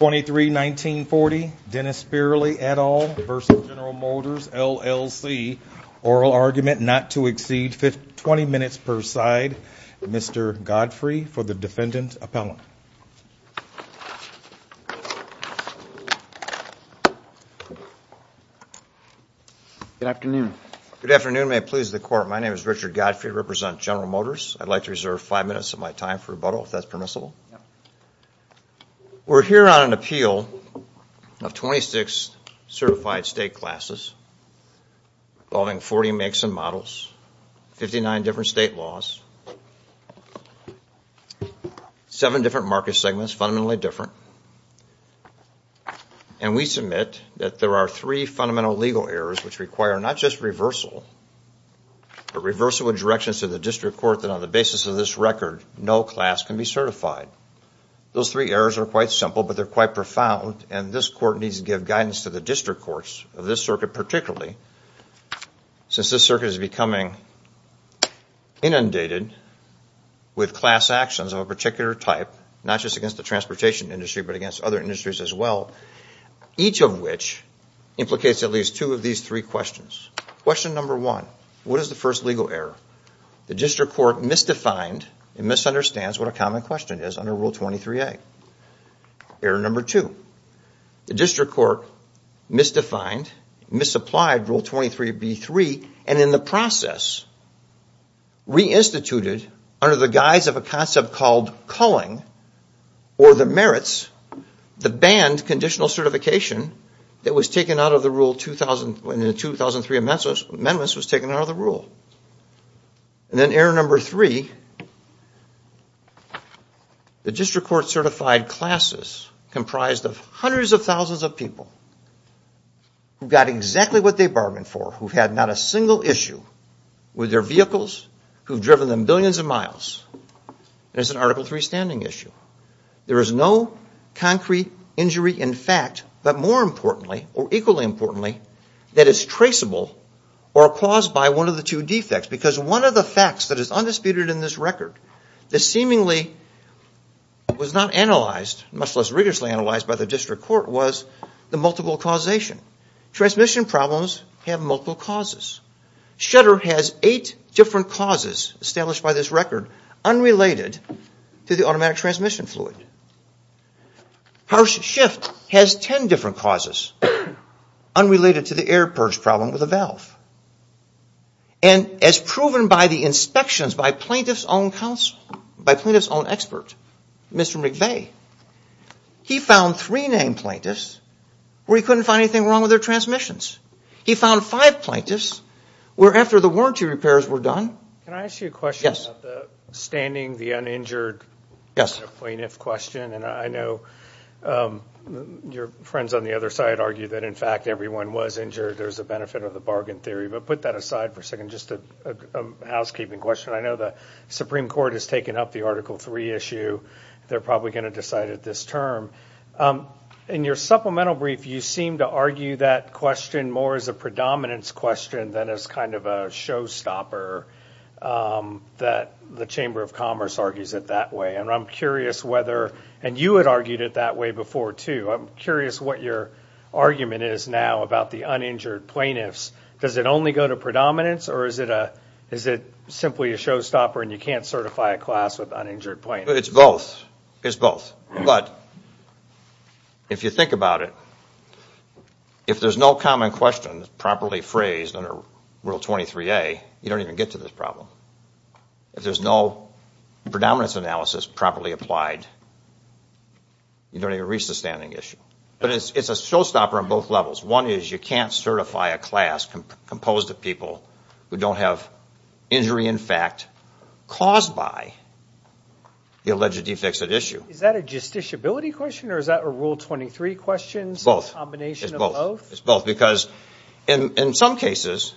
23-19-40 Dennis Speerly et al. versus General Motors LLC oral argument not to exceed 20 minutes per side. Mr. Godfrey for the defendant appellant. Good afternoon. Good afternoon may it please the court my name is Richard Godfrey represent General Motors I'd like to reserve five minutes of my time for if that's permissible. We're here on an appeal of 26 certified state classes involving 40 makes and models, 59 different state laws, seven different market segments fundamentally different, and we submit that there are three fundamental legal errors which require not just reversal but reversal with directions to the district court that on the basis of this record no class can be certified. Those three errors are quite simple but they're quite profound and this court needs to give guidance to the district courts of this circuit particularly since this circuit is becoming inundated with class actions of a particular type not just against the transportation industry but against other industries as well each of which implicates at least two of these three questions. Question number one what is the first legal error? The district court misdefined and misunderstands what a common question is under rule 23a. Error number two the district court misdefined, misapplied rule 23b3 and in the process reinstituted under the guise of a concept called culling or the merits the banned conditional certification that was taken out of the rule when the 2003 amendments was taken out of the rule. And then error number three the district court certified classes comprised of hundreds of thousands of people who got exactly what they bargained for who had not a single issue with their vehicles who've driven them billions of miles. There's an article 3 standing issue. There is no concrete injury in fact but more importantly or equally importantly that is traceable or caused by one of the two defects because one of the facts that is undisputed in this record the seemingly was not analyzed much less rigorously analyzed by the district court was the multiple causation. Transmission problems have multiple causes. Shutter has eight different causes established by this record unrelated to the automatic transmission fluid. House shift has ten different causes unrelated to the air purge problem with a valve. And as proven by the inspections by plaintiff's own counsel by plaintiff's own expert Mr. McVeigh he found three named plaintiffs where he couldn't find anything wrong with their transmissions. He found five plaintiffs where after the warranty repairs were done. Can I ask you a question about the standing the uninjured plaintiff question and I know your friends on the other side argue that in fact everyone was injured there's a benefit of the bargain theory but put that aside for a second just a housekeeping question I know the Supreme Court has taken up the article 3 issue they're probably going to decide at this term. In your supplemental brief you seem to argue that question more as a predominance question than as kind of a showstopper that the Chamber of Commerce argues it that way and I'm curious whether and you had argued it that way before too I'm curious what your argument is now about the uninjured plaintiffs does it only go to predominance or is it a is it simply a showstopper and you can't certify a class with uninjured plaintiffs? It's both it's both but if you think about it if there's no common questions properly phrased under Rule 23a you don't even get to this problem. If there's no predominance analysis properly applied you don't even reach the standing issue but it's a showstopper on both levels one is you can't certify a class composed of people who don't have injury in fact caused by the alleged defects at issue. Is that a justiciability question or is that a Rule 23 question? It's both it's both because in some cases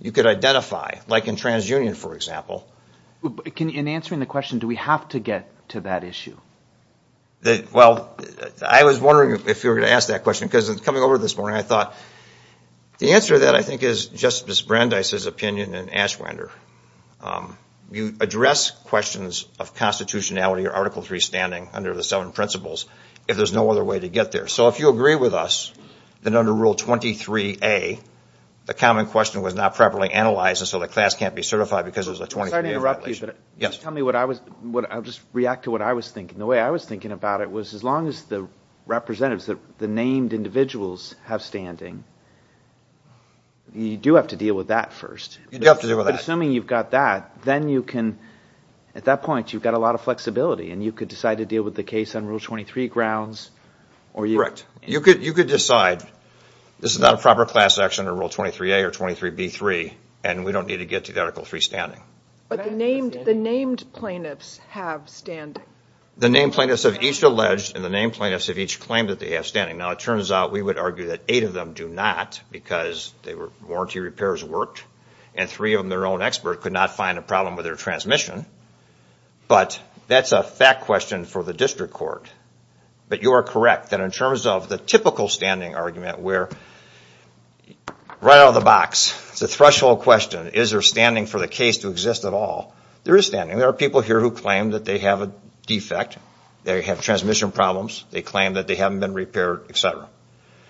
you could identify like in TransUnion for example. In answering the question do we have to get to that issue? Well I was wondering if you were to ask that question because it's coming over this morning I thought the answer that I think is Justice Brandeis's opinion and Ashwander you address questions of constitutionality or Article 3 standing under the seven principles if there's no other way to get there so if you agree with us then under Rule 23a the common question was not properly analyzed and so the class can't be certified because it was a 23a violation. I'm sorry to interrupt you but just tell me what I was what I'll just react to what I was thinking the way I was thinking about it was as long as the representatives that the named individuals have standing you do have to deal with that first. You do have to deal with that. Assuming you've got that then you can at that point you've got a lot of flexibility and you could decide to deal with the case on Rule 23 grounds. Correct. You could you could decide this is not a proper class action or Rule 23a or 23b3 and we don't need to get to Article 3 standing. But the named the named plaintiffs have standing. The named plaintiffs of each alleged and the named plaintiffs of each claim that they have standing. Now it turns out we would argue that eight of them do not because they were warranty repairs worked and three of them their own expert could not find a problem with their transmission but that's a fact question for the district court but you are correct that in terms of the typical standing argument where right out of the box it's a threshold question is there standing for the case to exist at all. There is standing. There are people here who claim that they have a defect. They have transmission problems. They claim that they haven't been repaired etc.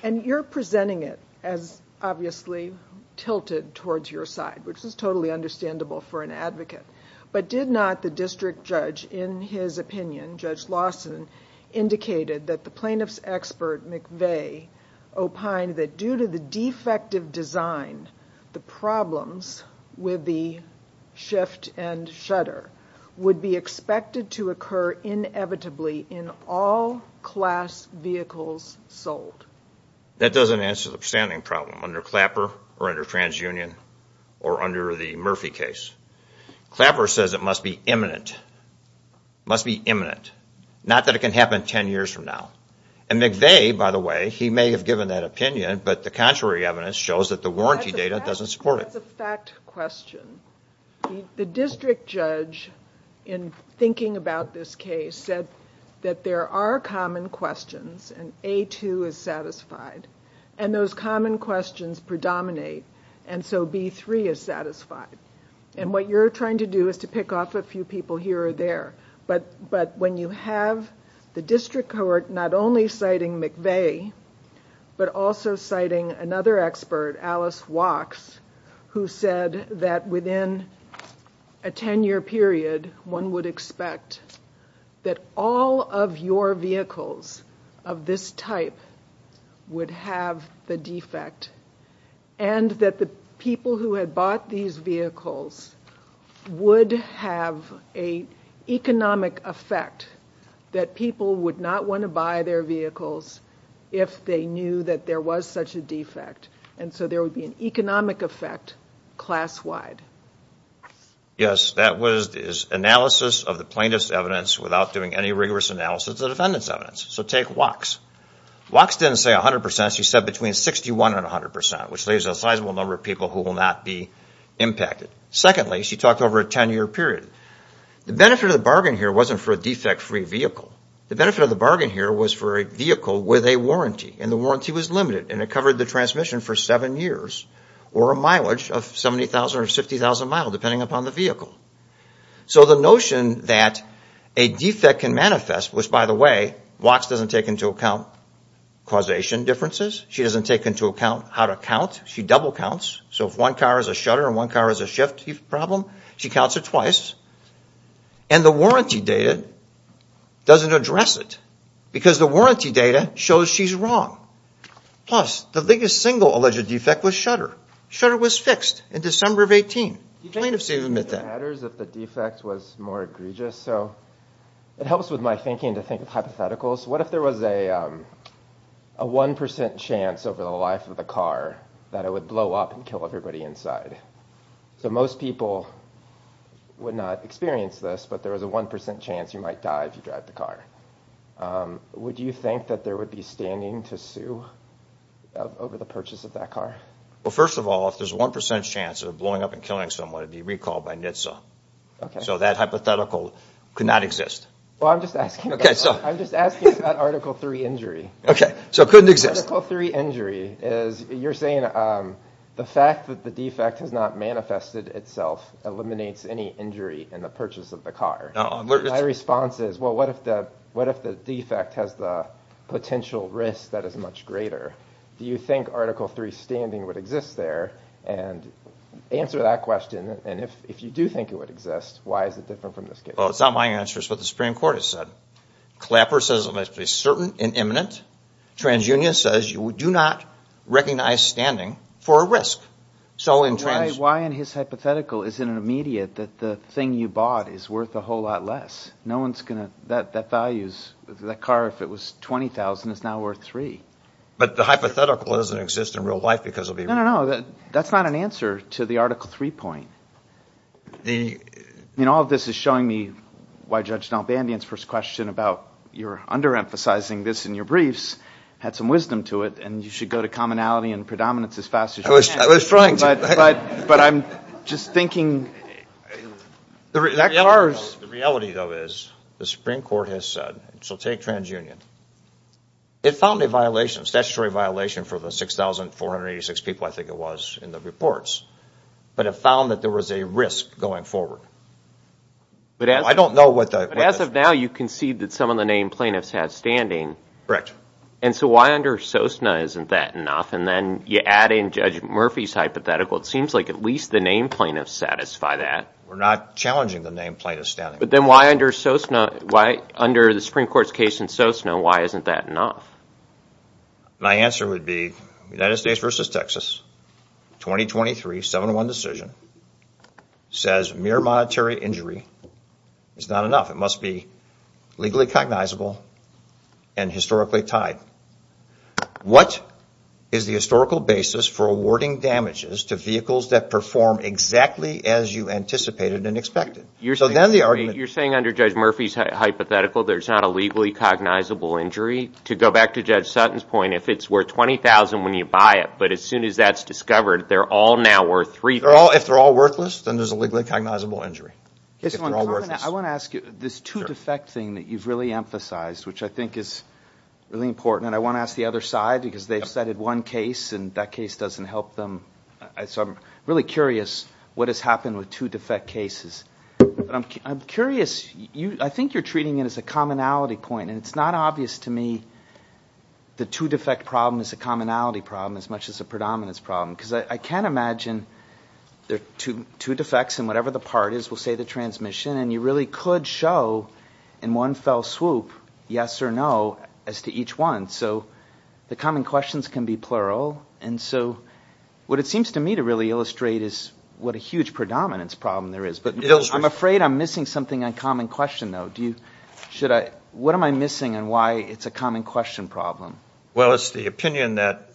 And you're presenting it as obviously tilted towards your side which is totally understandable for an advocate. But did not the district judge in his opinion, Judge Lawson, indicated that the plaintiffs expert McVeigh opined that due to the defective design the problems with the shift and shutter would be expected to occur inevitably in all class vehicles sold. That doesn't answer the standing problem under Clapper or under TransUnion or under the Murphy case. Clapper says it must be imminent, must be imminent. Not that it can happen ten years from now. And McVeigh, by the way, he may have given that opinion but the contrary evidence shows that the warranty data doesn't support it. That's a fact question. The district judge in thinking about this case said that there are common questions and A2 is satisfied and those common questions predominate and so B3 is satisfied. And what you're trying to do is to pick off a few people here or there. But when you have the district court not only citing McVeigh but also citing another expert, Alice Wachs, who said that within a ten-year period one would expect that all of your vehicles of this type would have the defect and that the people who had bought these vehicles would have a economic effect that people would not want to buy their vehicles if they knew that there was such a defect. And so there would be an economic effect class-wide. Yes, that was analysis of the defendant's evidence without doing any rigorous analysis of the defendant's evidence. So take Wachs. Wachs didn't say 100%. She said between 61% and 100%, which leaves a sizable number of people who will not be impacted. Secondly, she talked over a ten-year period. The benefit of the bargain here wasn't for a defect-free vehicle. The benefit of the bargain here was for a vehicle with a warranty and the warranty was limited and it covered the transmission for seven years or a mileage of 70,000 or 50,000 miles depending upon the vehicle. So the notion that a defect can manifest, which by the way, Wachs doesn't take into account causation differences. She doesn't take into account how to count. She double counts. So if one car is a shutter and one car is a shift problem, she counts it twice and the warranty data doesn't address it because the warranty data shows she's wrong. Plus, the biggest single alleged defect was a shutter. Shutter was fixed in December of 18, plaintiffs didn't admit that. It matters if the defect was more egregious. So it helps with my thinking to think of hypotheticals. What if there was a 1% chance over the life of the car that it would blow up and kill everybody inside? So most people would not experience this but there was a 1% chance you might die if you drive the car. Would you think that there would be standing to sue over the purchase of that car? Well, first of all, if there's a 1% chance of blowing up and killing someone, it would be recalled by NHTSA. So that hypothetical could not exist. Well, I'm just asking about Article 3 injury. Okay, so it couldn't exist. Article 3 injury is, you're saying the fact that the defect has not manifested itself eliminates any injury in the purchase of the car. My response is, well, what if the defect has the potential risk that is much greater? Do you think Article 3 standing would exist there? And answer that question, and if you do think it would exist, why is it different from this case? Well, it's not my answer. It's what the Supreme Court has said. Clapper says it must be certain and imminent. TransUnion says you do not recognize standing for a risk. So in Trans... Why in his hypothetical is it immediate that the thing you bought is worth a whole lot less? That car, if it was $20,000, is now worth $3,000. But the hypothetical doesn't exist in real life because of the... No, no, no. That's not an answer to the Article 3 point. All of this is showing me why Judge D'Albandian's first question about your under-emphasizing this in your briefs had some wisdom to it, and you should go to commonality and predominance as fast as you can. I was trying to. But I'm just thinking... The reality, though, is the Supreme Court has said, so take TransUnion. It found a violation, a statutory violation for the 6,486 people, I think it was, in the reports. But it found that there was a risk going forward. I don't know what the... But as of now, you concede that some of the named plaintiffs have standing. Correct. And so why under SOSNA isn't that enough? And then you add in Judge Murphy's hypothetical, it seems like at least the named plaintiffs satisfy that. We're not challenging the named plaintiffs' standing. But then why under SOSNA, why under the Supreme Court's case in SOSNA, why isn't that enough? My answer would be United States versus Texas, 2023, 7-1 decision, says mere monetary injury is not enough. It must be legally cognizable and historically tied. What is the historical basis for awarding damages to vehicles that perform exactly as you anticipated and expected? You're saying under Judge Murphy's hypothetical, there's not a legally cognizable injury? To go back to Judge Sutton's point, if it's worth $20,000 when you buy it, but as soon as that's discovered, they're all now worth $3,000. If they're all worthless, then there's a legally cognizable injury. I want to ask you, this two defect thing that you've really emphasized, which I think is really important, and I want to ask the other side, because they've cited one case, and that case doesn't help them. I'm really curious what has happened with two defect cases. I'm curious, I think you're treating it as a commonality point, and it's not obvious to me the two defect problem is a commonality problem as much as a predominance problem, because I can't imagine there are two defects, and whatever the part is will say the transmission, and you really could show in one fell swoop, yes or no, as to each one. The common questions can be plural, and so what it seems to me to really illustrate is what a huge predominance problem there is. I'm afraid I'm missing something on common question, though. What am I missing, and why it's a common question problem? Well, it's the opinion that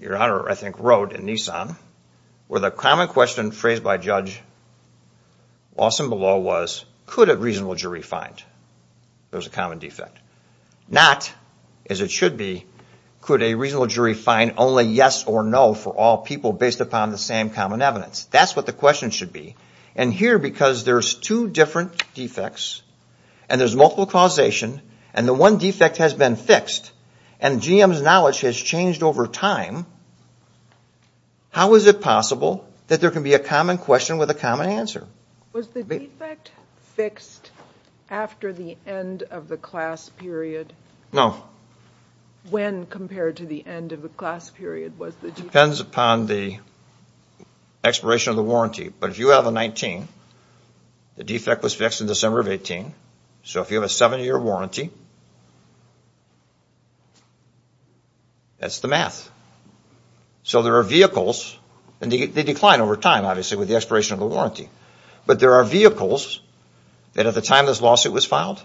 Your Honor, I think, wrote in Nissan, where the common question phrased by Judge Lawson-Below was, could a reasonable jury find there's a common defect? Not, as it should be, could a reasonable jury find only yes or no for all people based upon the same common evidence. That's what the question should be, and here, because there's two different defects, and there's multiple causation, and the one defect has been fixed, and GM's knowledge has changed over time, how is it possible that there can be a common question with a common answer? Was the defect fixed after the end of the class period? No. When compared to the end of the class period? Depends upon the expiration of the warranty, but if you have a 19, the defect was fixed in December of 18, so if you have a seven-year warranty, that's the math. So there are vehicles, and they decline over time, obviously, with the expiration of the warranty, but there are vehicles that at the time this lawsuit was filed,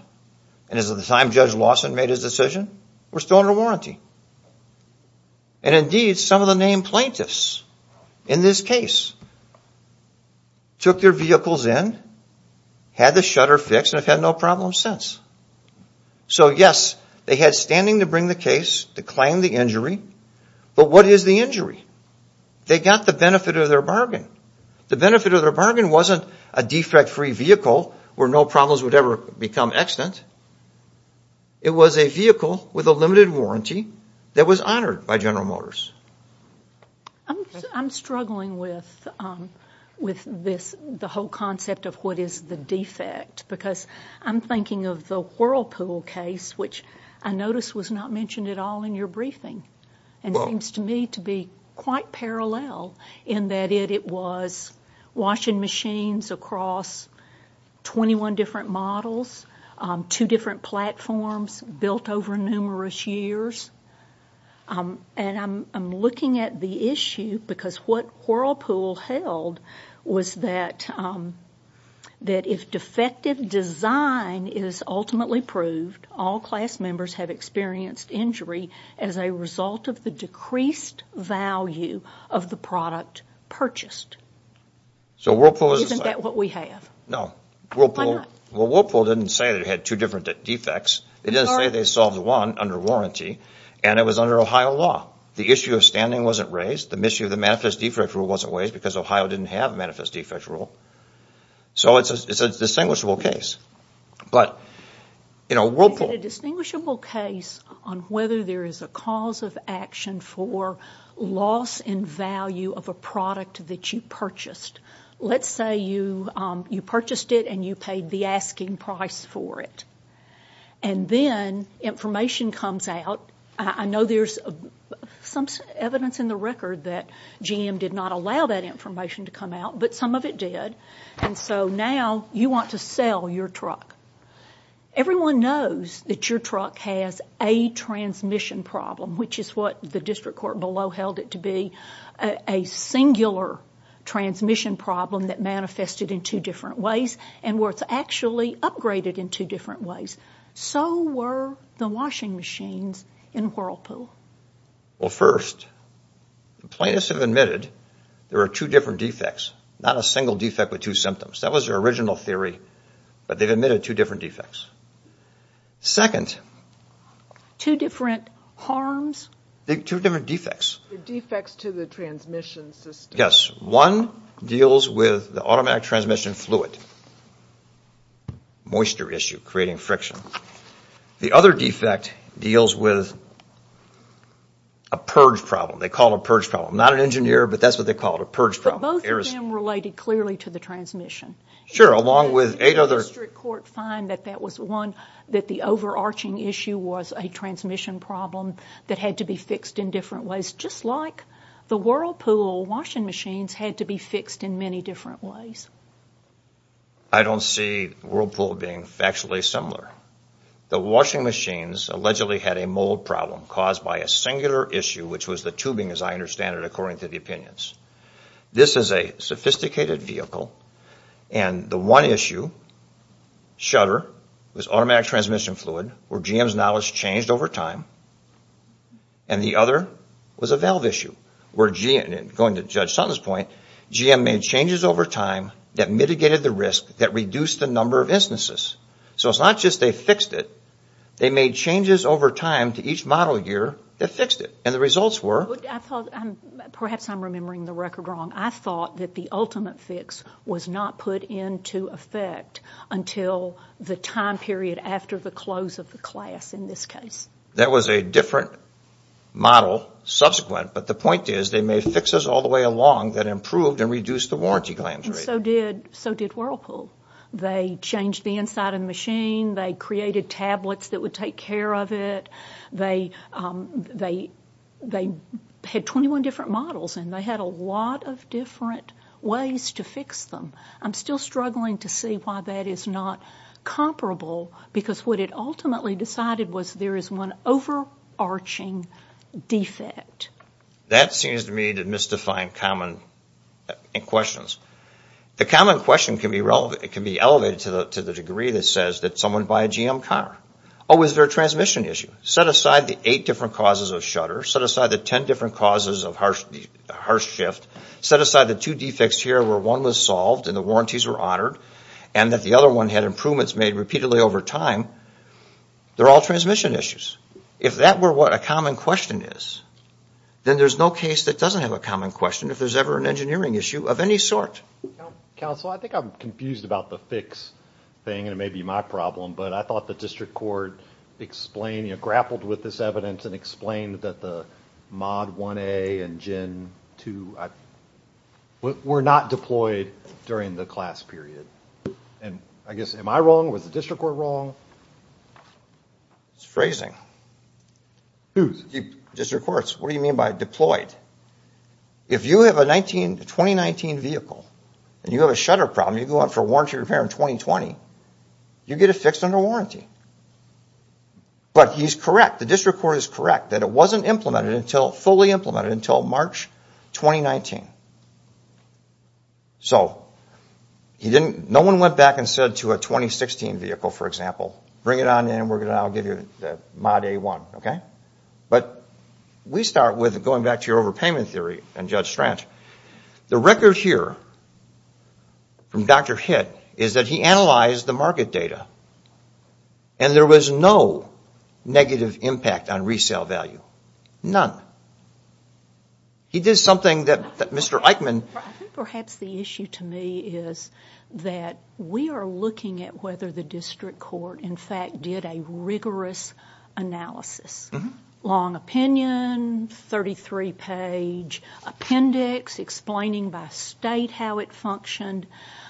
and as of the time Judge Lawson made his decision, were still under warranty. And indeed, some of the named plaintiffs in this case took their vehicles in, had the shutter fixed, and have had no problems since. So yes, they had standing to bring the case, to claim the injury, but what is the injury? They got the benefit of their bargain. The benefit of their bargain wasn't a defect-free vehicle where no problems would ever become extant. It was a vehicle with a limited warranty that was honored by General Motors. I'm struggling with the whole concept of what is the defect, because I'm thinking of the Whirlpool case, which I noticed was not mentioned at all in your briefing, and seems to me to be quite parallel in that it was washing machines across 21 different models, two different platforms built over numerous years. And I'm looking at the issue, because what Whirlpool held was that if defective design is ultimately proved, all class members have experienced injury as a result of the decreased value of the product purchased. Isn't that what we have? No. Well, Whirlpool didn't say they had two different defects. They didn't say they solved one under warranty, and it was under Ohio law. The issue of standing wasn't raised. The issue of the manifest defect rule wasn't raised, because Ohio didn't have a manifest defect rule. So it's a distinguishable case. But Whirlpool... It's a distinguishable case on whether there is a cause of action for loss in value of a product that you purchased. Let's say you purchased it and you paid the asking price for it. And then information comes out. I know there's some evidence in the record that GM did not allow that information to come out, but some of it did. And so now you want to sell your truck. Everyone knows that your truck has a transmission problem, which is what the transmission problem that manifested in two different ways and where it's actually upgraded in two different ways. So were the washing machines in Whirlpool. Well, first, plaintiffs have admitted there are two different defects, not a single defect with two symptoms. That was their original theory, but they've admitted two different defects. Second... Two different harms? Two different defects. Defects to the transmission system. Yes, one deals with the automatic transmission fluid, moisture issue creating friction. The other defect deals with a purge problem. They call it a purge problem. Not an engineer, but that's what they call it, a purge problem. But both of them related clearly to the transmission. Sure, along with eight other... The district court found that that was one, that the overarching issue was a transmission problem that had to be fixed in different ways, just like the washing machines had to be fixed in many different ways. I don't see Whirlpool being factually similar. The washing machines allegedly had a mold problem caused by a singular issue, which was the tubing, as I understand it, according to the opinions. This is a sophisticated vehicle, and the one issue, shutter, was automatic transmission fluid, where GM's knowledge changed over time, and the other was a GM made changes over time that mitigated the risk, that reduced the number of instances. So it's not just they fixed it. They made changes over time to each model year that fixed it, and the results were... Perhaps I'm remembering the record wrong. I thought that the ultimate fix was not put into effect until the time period after the close of the class in this case. That was a different model subsequent, but the point is they made fixes all the way along that improved and reduced the warranty claims rate. And so did Whirlpool. They changed the inside of the machine. They created tablets that would take care of it. They had 21 different models, and they had a lot of different ways to fix them. I'm still struggling to see why that is not comparable, because what it ultimately decided was there is one overarching defect. That seems to me to misdefine common questions. The common question can be elevated to the degree that says that someone buy a GM car. Oh, is there a transmission issue? Set aside the eight different causes of shutter. Set aside the ten different causes of harsh shift. Set aside the two defects here where one was solved and the warranties were honored, and that the other one had improvements made repeatedly over time. They're all transmission issues. If that were what a common question is, then there's no case that doesn't have a common question if there's ever an engineering issue of any sort. Counsel, I think I'm confused about the fix thing, and it may be my problem, but I thought the district court grappled with this evidence and explained that the Mod 1A and Gen 2 were not deployed during the class period. Am I wrong? Was the district court wrong? It's phrasing. District courts, what do you mean by deployed? If you have a 2019 vehicle and you have a shutter problem, you go out for warranty repair in 2020, you get it fixed under warranty. But he's correct, the district court is correct that it wasn't fully implemented until March 2019. So no one went back and said to a 2016 vehicle, for example, bring it on in and I'll give you the Mod A1. But we start with going back to your overpayment theory and Judge Stranch. The record here from Dr. Hitt is that he analyzed the market data and there was no negative impact on resale value. None. He did something that Mr. Eichmann... I think perhaps the issue to me is that we are looking at whether the district court, in fact, did a rigorous analysis. Long opinion, 33 page appendix explaining by state how it functioned.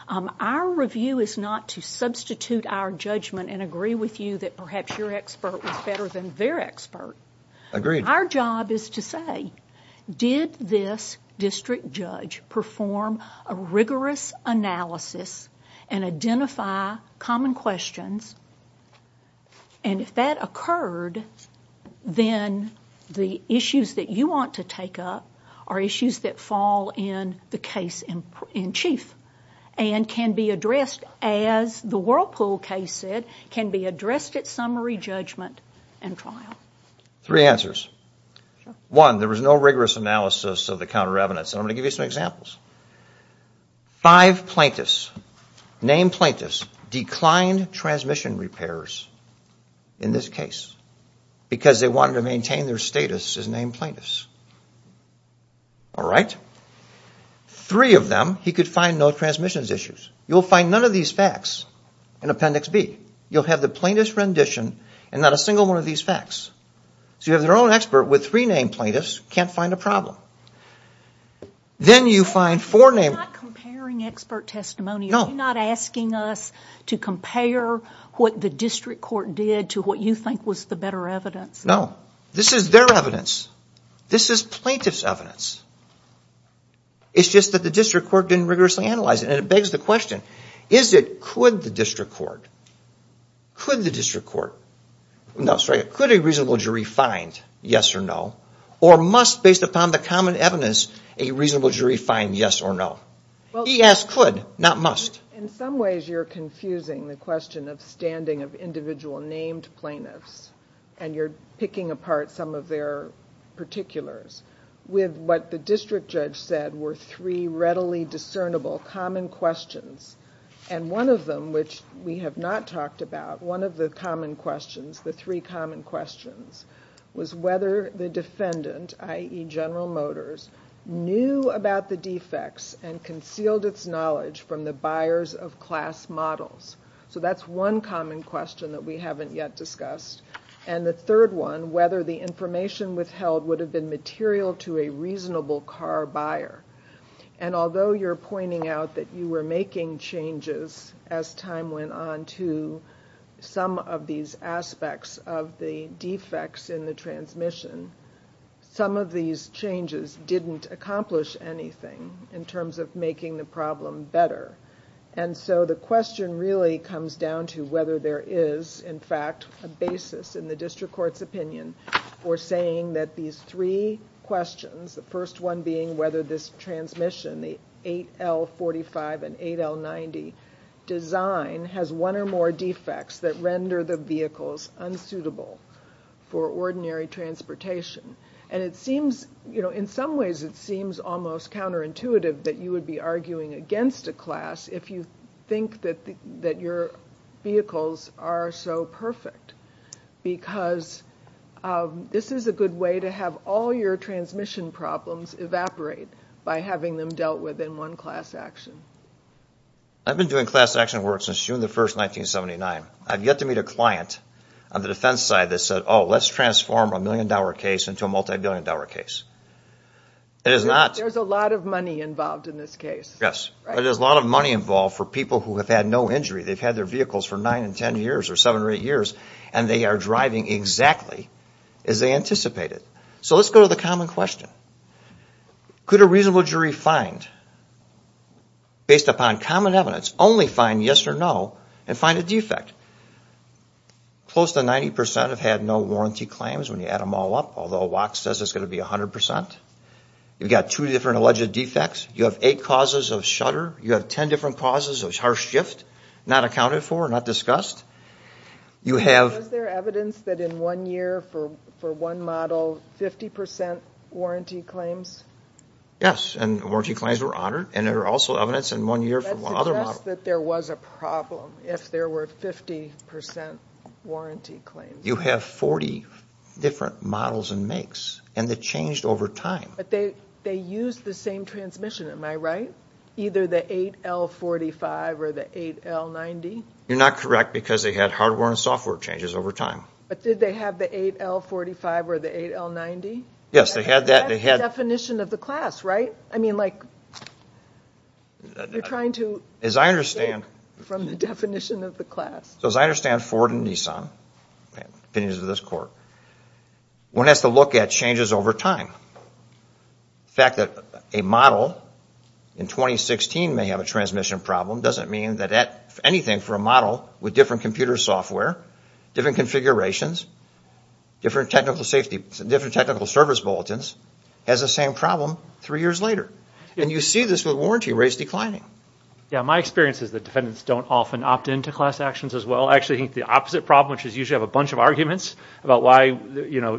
Our review is not to substitute our judgment and agree with you that perhaps your expert was better than their expert. Agreed. Our job is to say, did this district judge perform a rigorous analysis and identify common questions and if that occurred, then the issues that you want to take up are issues that fall in the case in chief and can be addressed as the Whirlpool case said, can be addressed at summary judgment and trial. Three answers. One, there was no rigorous analysis of the counter evidence. I'm going to give you some examples. Five plaintiffs, named plaintiffs, declined transmission repairs in this case because they wanted to maintain their status as named plaintiffs. All right? Three of them, he could find no transmissions issues. You'll find none of these facts in appendix B. You'll have the plaintiff's rendition and not a single one of these facts. You have your own expert with three named plaintiffs, can't find a problem. Then you find four named... You're not comparing expert testimony. No. You're not asking us to compare what the district court did to what you think was the better evidence. No. This is their evidence. This is plaintiff's evidence. It's just that the district court didn't rigorously analyze it. It begs the question, is it... Could the district court... Could the district court... No, sorry. Could a reasonable jury find yes or no? Or must, based upon the common evidence, a reasonable jury find yes or no? He asked could, not must. In some ways you're confusing the question of standing of individual named plaintiffs, and you're picking apart some of their particulars, with what the district judge said were three readily discernible common questions. One of them, which we have not talked about, one of the common questions, the three common questions, was whether the defendant, i.e. General Motors, knew about the defects and concealed its knowledge from the buyers of class models. That's one common question that we haven't yet discussed. The third one, whether the information withheld would have been material to a reasonable car buyer. Although you're pointing out that you were making changes as time went on to some of these aspects of the defects in the transmission, some of these changes didn't accomplish anything in terms of making the problem better. The question really comes down to whether there is, in fact, a basis in the district court's opinion for saying that these three questions, the first one being whether this transmission, the 8L45 and 8L90 design, has one or more defects that render the vehicles unsuitable for ordinary transportation. In some ways it seems almost counterintuitive that you would be arguing this is a good way to have all your transmission problems evaporate by having them dealt with in one class action. I've been doing class action work since June 1, 1979. I've yet to meet a client on the defense side that said, oh, let's transform a million dollar case into a multi-billion dollar case. There's a lot of money involved in this case. Yes. There's a lot of money involved for people who have had no injury. They've had their vehicles for nine and ten years or seven or eight years and they are driving exactly as they anticipated. So let's go to the common question. Could a reasonable jury find, based upon common evidence, only find yes or no and find a defect? Close to 90 percent have had no warranty claims when you add them all up, although WAC says it's going to be 100 percent. You've got two different alleged defects. You have eight causes of shudder. You have ten different causes of harsh shift, not accounted for, not discussed. Was there evidence that in one year for one model, 50 percent warranty claims? Yes, and warranty claims were honored. There was also evidence in one year for another model. Let's suggest that there was a problem if there were 50 percent warranty claims. You have 40 different models and makes, and they changed over time. But they used the same transmission, am I right? Either the 8L45 or the 8L90? You're not correct because they had hardware and software changes over time. But did they have the 8L45 or the 8L90? Yes, they had that. That's the definition of the class, right? I mean, like, you're trying to take it from the definition of the class. As I understand Ford and Nissan, the opinions of this court, one has to look at changes over time. The fact that a model in 2016 may have a transmission problem doesn't mean that anything for a model with different computer software, different configurations, different technical safety, different technical service bulletins has the same problem three years later. And you see this with warranty rates declining. Yeah, my experience is that defendants don't often opt in to class actions as well. I actually think the opposite problem, which is you should have a bunch of arguments about why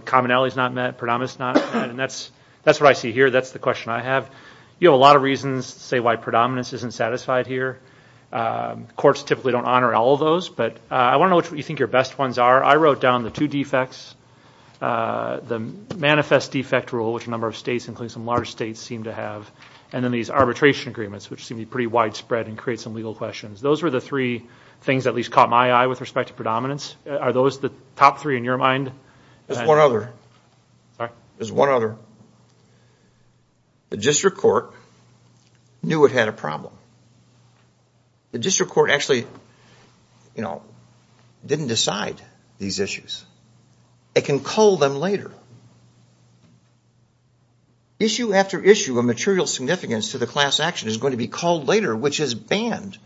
commonality is not met, predominance is not met, and that's what I see here. That's the question I have. You have a lot of reasons to say why predominance isn't satisfied here. Courts typically don't honor all of those, but I want to know what you think your best ones are. I wrote down the two defects, the manifest defect rule, which a number of states, including some large states, seem to have, and then these arbitration agreements, which seem to be pretty widespread and create some legal questions. Those were the three things that at least caught my eye with respect to predominance. Are those the top three in your mind? There's one other. Sorry? There's one other. The district court knew it had a problem. The district court actually, you know, didn't decide these issues. It can cull them later. Issue after issue of material significance to the class action is going to be culled later, which is banned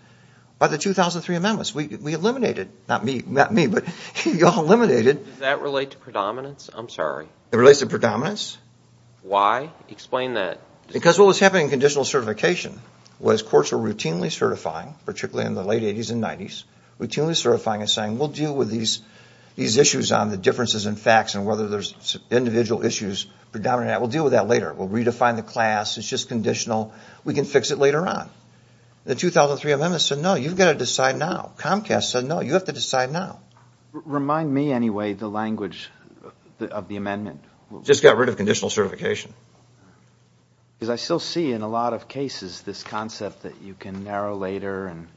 by the 2003 amendments. We eliminated, not me, but y'all eliminated. Does that relate to predominance? I'm sorry. It relates to predominance. Why? Explain that. Because what was happening in conditional certification was courts were routinely certifying, particularly in the late 80s and 90s, routinely certifying and saying, we'll deal with these issues on the differences in facts and whether there's individual issues predominant. We'll deal with that later. We'll redefine the class. It's just conditional. We can fix it later on. The 2003 amendments said, no, you've got to decide now. Comcast said, no, you have to decide now. Remind me, anyway, the language of the amendment. Just got rid of conditional certification. Because I still see in a lot of cases this concept that you can narrow later and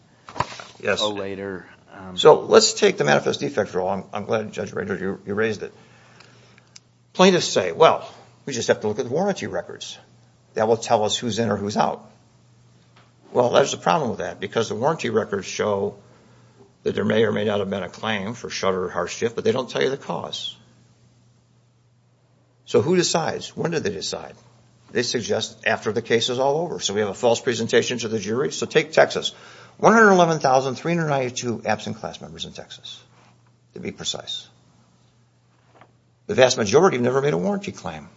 cull later. So let's take the manifest defect rule. I'm glad, Judge Rader, you raised it. Plaintiffs say, well, we just have to look at the warranty records. That will tell us who's in or who's out. Well, there's a problem with that because the warranty records show that there may or may not have been a claim for shudder or hardship, but they don't tell you the cause. So who decides? When do they decide? They suggest after the case is all over. So we have a false presentation to the jury. So take Texas. 111,392 absent class members in Texas, to be precise. The vast majority never made a warranty claim.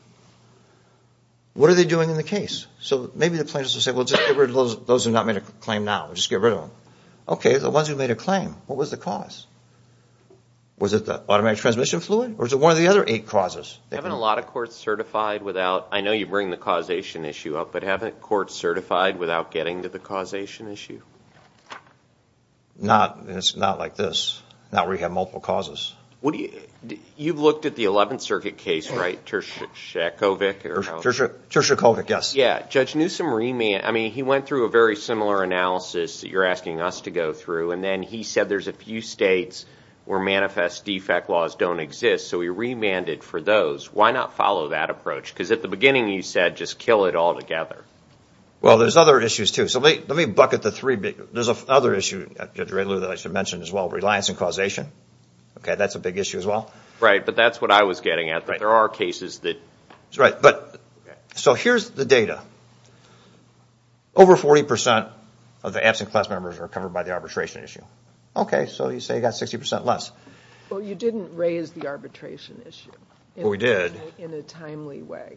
What are they doing in the case? So maybe the plaintiffs will say, well, just get rid of those who have not made a claim now. Just get rid of them. Okay, the ones who made a claim. What was the cause? Was it the automatic transmission fluid? Or was it one of the other eight causes? Haven't a lot of courts certified without, I know you bring the causation issue up, but haven't courts certified without getting to the causation issue? Not, it's not like this. Not where you have multiple causes. You've looked at the 11th Circuit case, right, Turchikovic? Turchikovic, yes. Yeah, Judge Newsom remanded, I mean, he went through a very similar analysis that you're asking us to go through, and then he said there's a few states where manifest defect laws don't exist, so he remanded for those. Why not follow that approach? Because at the beginning you said just kill it all together. Well, there's other issues, too. So let me bucket the three. There's another issue, Judge Redlew, that I should mention as well, reliance and causation. Okay, that's a big issue as well. Right, but that's what I was getting at. There are cases that. Right, but so here's the data. Over 40% of the absent class members are covered by the arbitration issue. Okay, so you say you've got 60% less. Well, you didn't raise the arbitration issue. Well, we did. In a timely way.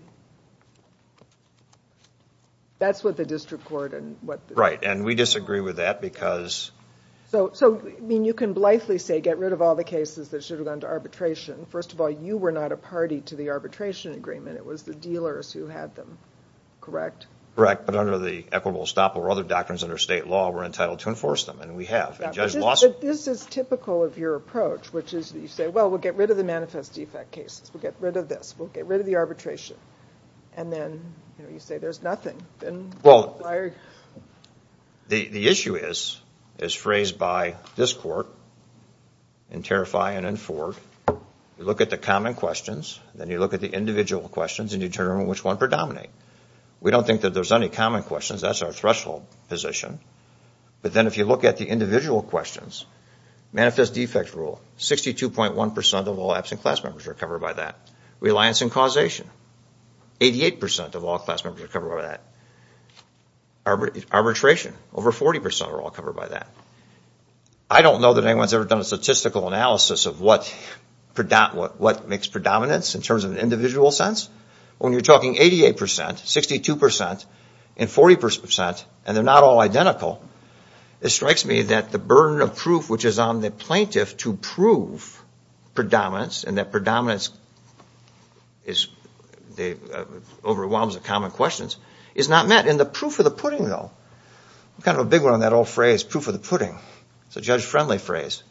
That's what the district court and what. Right, and we disagree with that because. So, I mean, you can blithely say get rid of all the cases that should have gone to arbitration. First of all, you were not a party to the arbitration agreement. It was the dealers who had them, correct? Correct, but under the equitable stop or other doctrines under state law, we're entitled to enforce them, and we have. But this is typical of your approach, which is you say, well, we'll get rid of the manifest defect cases. We'll get rid of this. We'll get rid of the arbitration. And then, you know, you say there's nothing. Well, the issue is, is phrased by this court in Terrify and in Ford. You look at the common questions, then you look at the individual questions and determine which one predominate. We don't think that there's any common questions. That's our threshold position. But then if you look at the individual questions, manifest defect rule, 62.1% of all absent class members are covered by that. Reliance and causation, 88% of all class members are covered by that. Arbitration, over 40% are all covered by that. I don't know that anyone's ever done a statistical analysis of what makes predominance in terms of an individual sense. When you're talking 88%, 62%, and 40%, and they're not all identical, it strikes me that the burden of proof, which is on the plaintiff to prove predominance and that predominance overwhelms the common questions, is not met. And the proof of the pudding, though, kind of a big one on that old phrase, proof of the pudding. It's a judge-friendly phrase.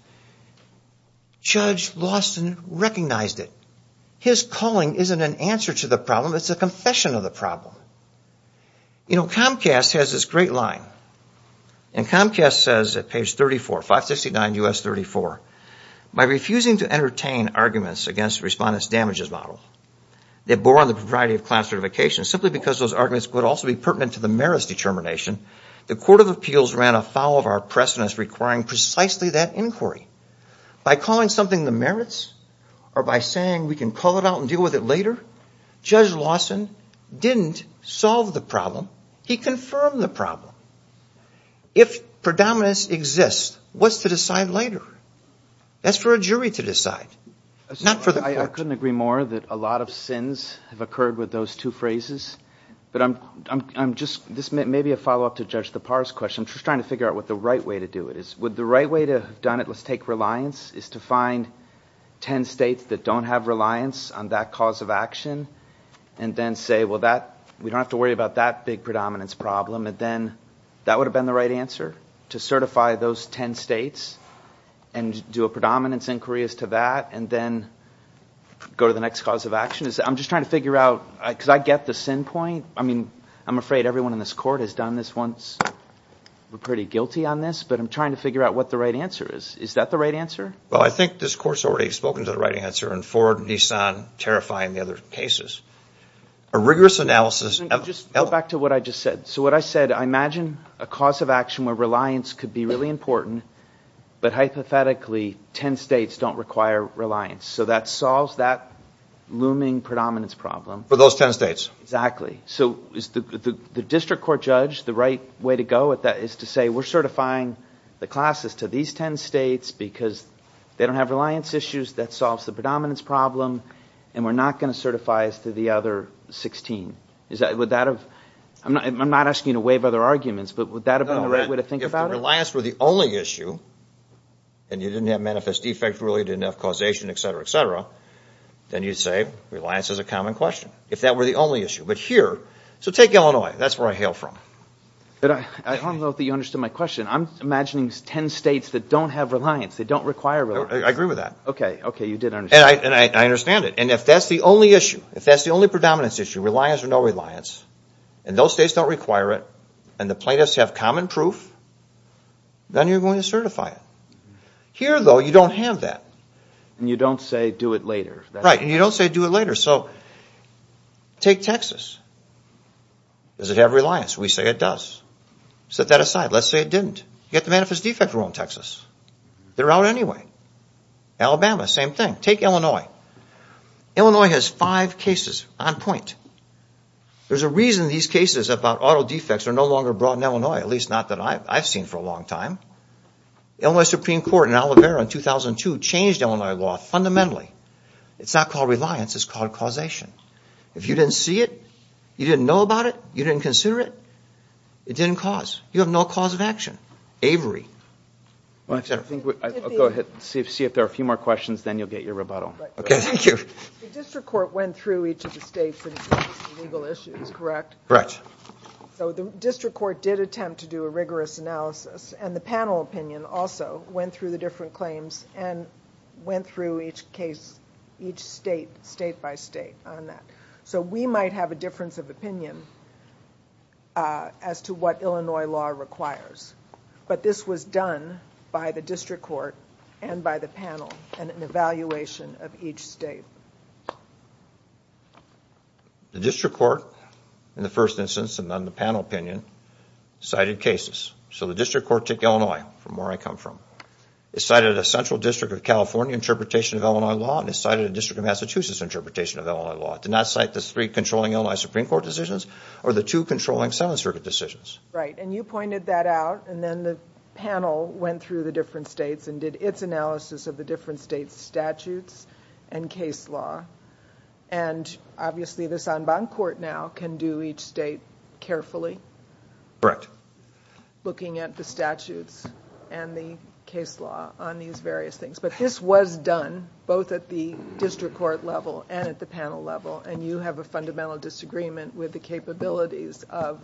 Judge Lawson recognized it. His calling isn't an answer to the problem. It's a confession of the problem. You know, Comcast has this great line. And Comcast says at page 34, 569 U.S. 34, by refusing to entertain arguments against the Respondent's Damages Model that bore on the propriety of class certification simply because those arguments could also be pertinent to the merits determination, the Court of Appeals ran afoul of our pressness requiring precisely that inquiry. By calling something the merits or by saying we can call it out and deal with it later, Judge Lawson didn't solve the problem. He confirmed the problem. If predominance exists, what's to decide later? That's for a jury to decide, not for the court. I couldn't agree more that a lot of sins have occurred with those two phrases. This may be a follow-up to Judge Lepar's question. I'm just trying to figure out what the right way to do it is. Would the right way to have done it, let's take reliance, is to find ten states that don't have reliance on that cause of action and then say, well, we don't have to worry about that big predominance problem, and then that would have been the right answer, to certify those ten states and do a predominance inquiry as to that and then go to the next cause of action? I'm just trying to figure out, because I get the sin point. I'm afraid everyone in this court has done this once. We're pretty guilty on this, but I'm trying to figure out what the right answer is. Is that the right answer? Well, I think this Court's already spoken to the right answer, and Ford, Nissan, terrifying the other cases. A rigorous analysis of... Just go back to what I just said. So what I said, I imagine a cause of action where reliance could be really important, but hypothetically ten states don't require reliance. So that solves that looming predominance problem. For those ten states. Exactly. So is the district court judge the right way to go at that is to say, we're certifying the classes to these ten states because they don't have reliance issues, that solves the predominance problem, and we're not going to certify as to the other 16. Would that have... I'm not asking you to waive other arguments, but would that have been the right way to think about it? No, if reliance were the only issue, and you didn't have manifest defect really, didn't have causation, et cetera, et cetera, then you'd say reliance is a common question, if that were the only issue. But here, so take Illinois. That's where I hail from. I don't know that you understood my question. I'm imagining ten states that don't have reliance, they don't require reliance. I agree with that. Okay, okay, you did understand. And I understand it. And if that's the only issue, if that's the only predominance issue, reliance or no reliance, and those states don't require it, and the plaintiffs have common proof, then you're going to certify it. Here, though, you don't have that. And you don't say do it later. Right, and you don't say do it later. So take Texas. Does it have reliance? We say it does. Set that aside. Let's say it didn't. You've got the manifest defect rule in Texas. They're out anyway. Alabama, same thing. Take Illinois. Illinois has five cases on point. There's a reason these cases about auto defects are no longer brought in Illinois, at least not that I've seen for a long time. The Illinois Supreme Court in Alavera in 2002 changed Illinois law fundamentally. It's not called reliance. It's called causation. If you didn't see it, you didn't know about it, you didn't consider it, it didn't cause. You have no cause of action. Avery, et cetera. Go ahead. See if there are a few more questions, then you'll get your rebuttal. Okay, thank you. The district court went through each of the states and its legal issues, correct? Correct. The district court did attempt to do a rigorous analysis, and the panel opinion also went through the different claims and went through each case, each state, state by state on that. We might have a difference of opinion as to what Illinois law requires, but this was done by the district court and by the panel and an evaluation of each state. The district court, in the first instance, and then the panel opinion, cited cases. So the district court took Illinois from where I come from. It cited a central district of California interpretation of Illinois law, and it cited a district of Massachusetts interpretation of Illinois law. It did not cite the three controlling Illinois Supreme Court decisions or the two controlling Senate circuit decisions. Right, and you pointed that out, and then the panel went through the different states and did its analysis of the different states' statutes and case law, and obviously the Sanbon court now can do each state carefully. Correct. Looking at the statutes and the case law on these various things, but this was done both at the district court level and at the panel level, and you have a fundamental disagreement with the capabilities of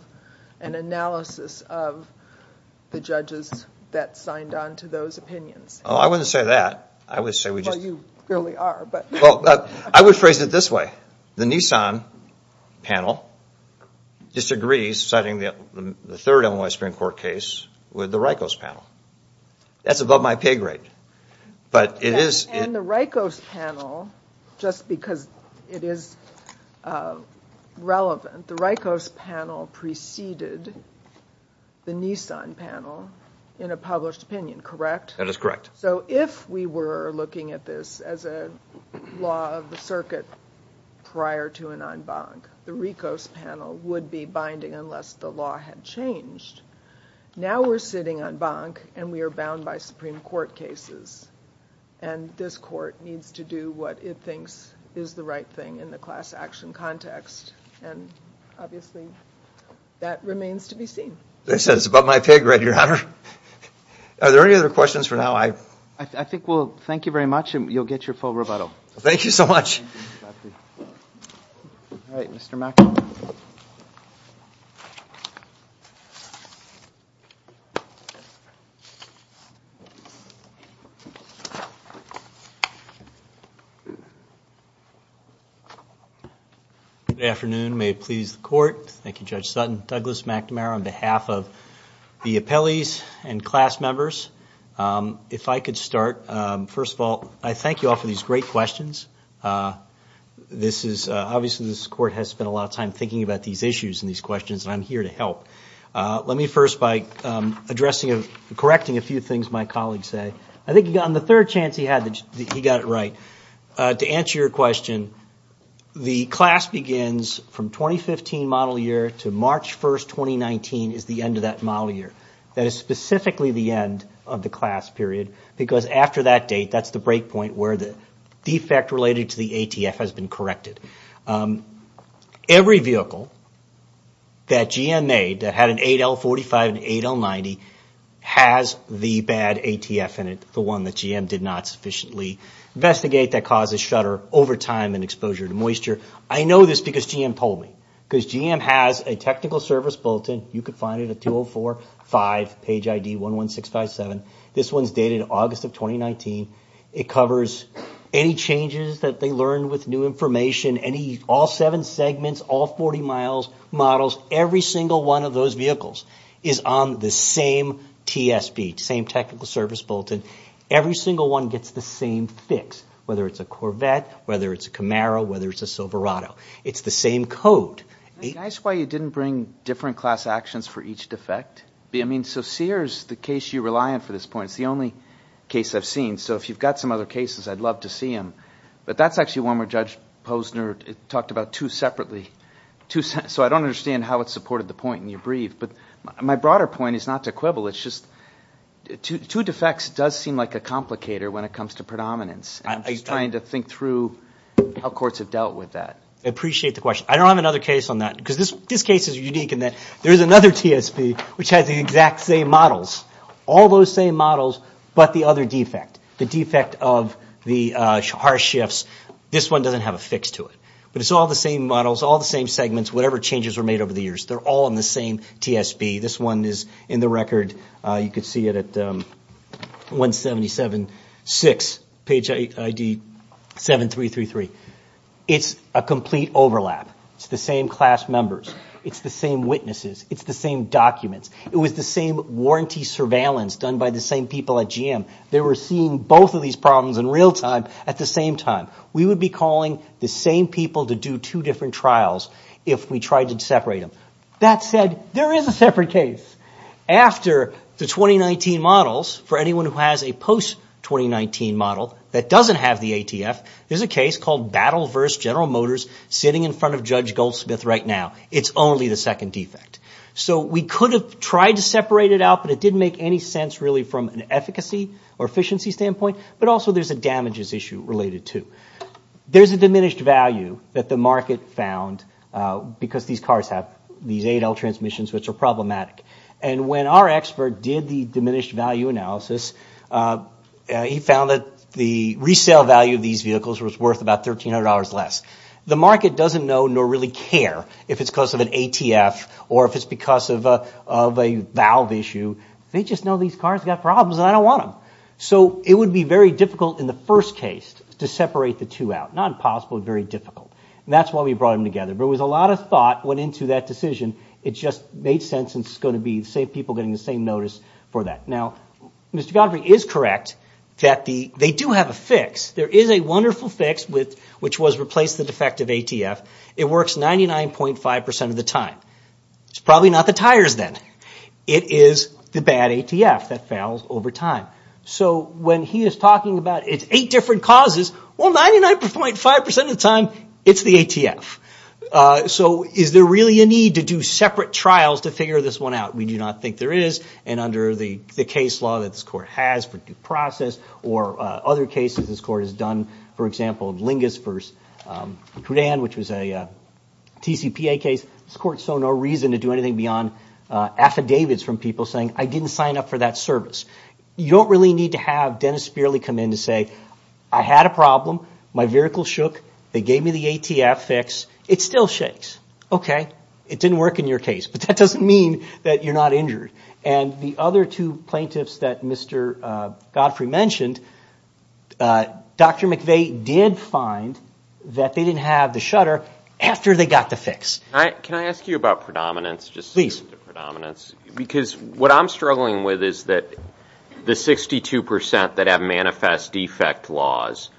an analysis of the judges that signed on to those opinions. Oh, I wouldn't say that. I would say we just... Well, you clearly are, but... Well, I would phrase it this way. The Nissan panel disagrees, citing the third Illinois Supreme Court case, with the RICOS panel. That's above my pay grade, but it is... And the RICOS panel, just because it is relevant, the RICOS panel preceded the Nissan panel in a published opinion, correct? That is correct. So if we were looking at this as a law of the circuit prior to an en banc, the RICOS panel would be binding unless the law had changed. Now we're sitting en banc, and we are bound by Supreme Court cases, and this court needs to do what it thinks is the right thing in the class action context, and obviously that remains to be seen. They said it's above my pay grade, Your Honor. Are there any other questions for now? I think we'll thank you very much, and you'll get your full rebuttal. Thank you so much. All right, Mr. Mack. Thank you. Good afternoon. May it please the Court. Thank you, Judge Sutton. Douglas McNamara on behalf of the appellees and class members. If I could start, first of all, I thank you all for these great questions. Obviously this court has spent a lot of time thinking about these issues and these questions, and I'm here to help. Let me first, by correcting a few things my colleagues say, I think on the third chance he got it right, to answer your question, the class begins from 2015 model year to March 1, 2019 is the end of that model year. That is specifically the end of the class period because after that date, that's the break point where the defect related to the ATF has been corrected. Every vehicle that GM made that had an 8L45 and an 8L90 has the bad ATF in it, the one that GM did not sufficiently investigate that causes shutter over time and exposure to moisture. I know this because GM told me, because GM has a technical service bulletin. You can find it at 204-5, page ID 11657. This one's dated August of 2019. It covers any changes that they learned with new information, all seven segments, all 40 miles, models. Every single one of those vehicles is on the same TSB, same technical service bulletin. Every single one gets the same fix, whether it's a Corvette, whether it's a Camaro, whether it's a Silverado. It's the same code. Can I ask why you didn't bring different class actions for each defect? So Sears, the case you rely on for this point, it's the only case I've seen. So if you've got some other cases, I'd love to see them. But that's actually one where Judge Posner talked about two separately. So I don't understand how it supported the point in your brief. But my broader point is not to quibble. It's just two defects does seem like a complicator when it comes to predominance. I'm just trying to think through how courts have dealt with that. I appreciate the question. I don't have another case on that because this case is unique in that there is another TSB which has the exact same models. All those same models, but the other defect, the defect of the harsh shifts, this one doesn't have a fix to it. But it's all the same models, all the same segments, whatever changes were made over the years. They're all in the same TSB. This one is in the record. You can see it at 177-6, page ID 7333. It's a complete overlap. It's the same class members. It's the same witnesses. It's the same documents. It was the same warranty surveillance done by the same people at GM. They were seeing both of these problems in real time at the same time. We would be calling the same people to do two different trials if we tried to separate them. That said, there is a separate case. After the 2019 models, for anyone who has a post-2019 model that doesn't have the ATF, there's a case called Battle vs. General Motors sitting in front of Judge Goldsmith right now. It's only the second defect. So we could have tried to separate it out, but it didn't make any sense really from an efficacy or efficiency standpoint. But also there's a damages issue related to. There's a diminished value that the market found because these cars have these 8L transmissions which are problematic. And when our expert did the diminished value analysis, he found that the resale value of these vehicles was worth about $1,300 less. The market doesn't know nor really care if it's because of an ATF or if it's because of a valve issue. They just know these cars have got problems and I don't want them. So it would be very difficult in the first case to separate the two out. Not impossible, very difficult. And that's why we brought them together. But with a lot of thought went into that decision, it just made sense and it's going to be the same people getting the same notice for that. Now, Mr. Godfrey is correct that they do have a fix. There is a wonderful fix which was replace the defective ATF. It works 99.5% of the time. It's probably not the tires then. It is the bad ATF that fails over time. So when he is talking about its 8 different causes, well, 99.5% of the time it's the ATF. So is there really a need to do separate trials to figure this one out? We do not think there is. And under the case law that this court has for due process or other cases this court has done, for example, Lingus v. Crudan, which was a TCPA case, this court saw no reason to do anything beyond affidavits from people saying, I didn't sign up for that service. You don't really need to have Dennis Spearley come in to say, I had a problem, my vehicle shook, they gave me the ATF fix, it still shakes. Okay, it didn't work in your case, but that doesn't mean that you're not injured. And the other two plaintiffs that Mr. Godfrey mentioned, Dr. McVeigh did find that they didn't have the shutter after they got the fix. Can I ask you about predominance? Please. Because what I'm struggling with is that the 62% that have manifest defect laws,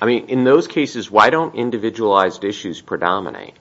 I mean, in those cases, why don't individualized issues predominate?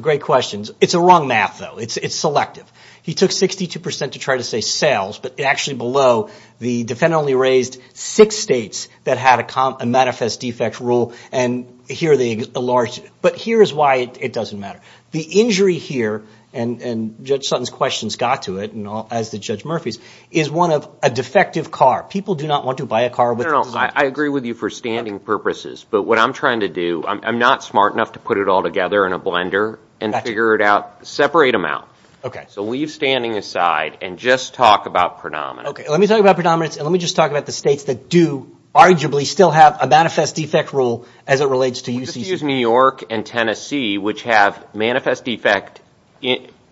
Great question. It's a wrong math, though. It's selective. He took 62% to try to say sales, but actually below, the defendant only raised six states that had a manifest defect rule, and here they enlarged it. But here is why it doesn't matter. The injury here, and Judge Sutton's questions got to it, as did Judge Murphy's, is one of a defective car. People do not want to buy a car with a defect. I agree with you for standing purposes, but what I'm trying to do, I'm not smart enough to put it all together in a blender and figure it out, separate them out. Okay. So leave standing aside and just talk about predominance. Okay. Let me talk about predominance, and let me just talk about the states that do arguably still have a manifest defect rule as it relates to UCC. Just use New York and Tennessee, which have manifest defect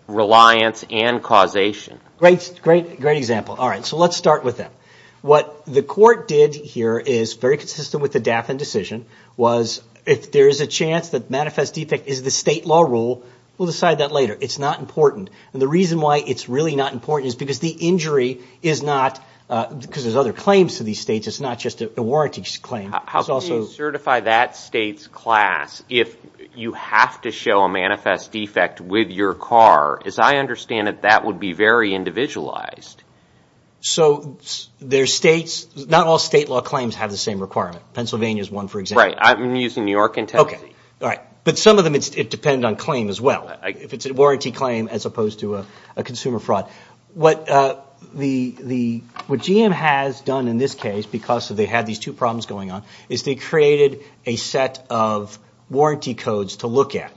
reliance and causation. Great example. All right. So let's start with that. What the court did here is very consistent with the Daffin decision, was if there is a chance that manifest defect is the state law rule, we'll decide that later. It's not important. And the reason why it's really not important is because the injury is not, because there's other claims to these states, it's not just a warranty claim. How can you certify that state's class if you have to show a manifest defect with your car? As I understand it, that would be very individualized. So there's states, not all state law claims have the same requirement. Pennsylvania is one, for example. Right. I'm using New York and Tennessee. Okay. All right. But some of them, it depends on claim as well, if it's a warranty claim as opposed to a consumer fraud. What GM has done in this case, because they had these two problems going on, is they created a set of warranty codes to look at.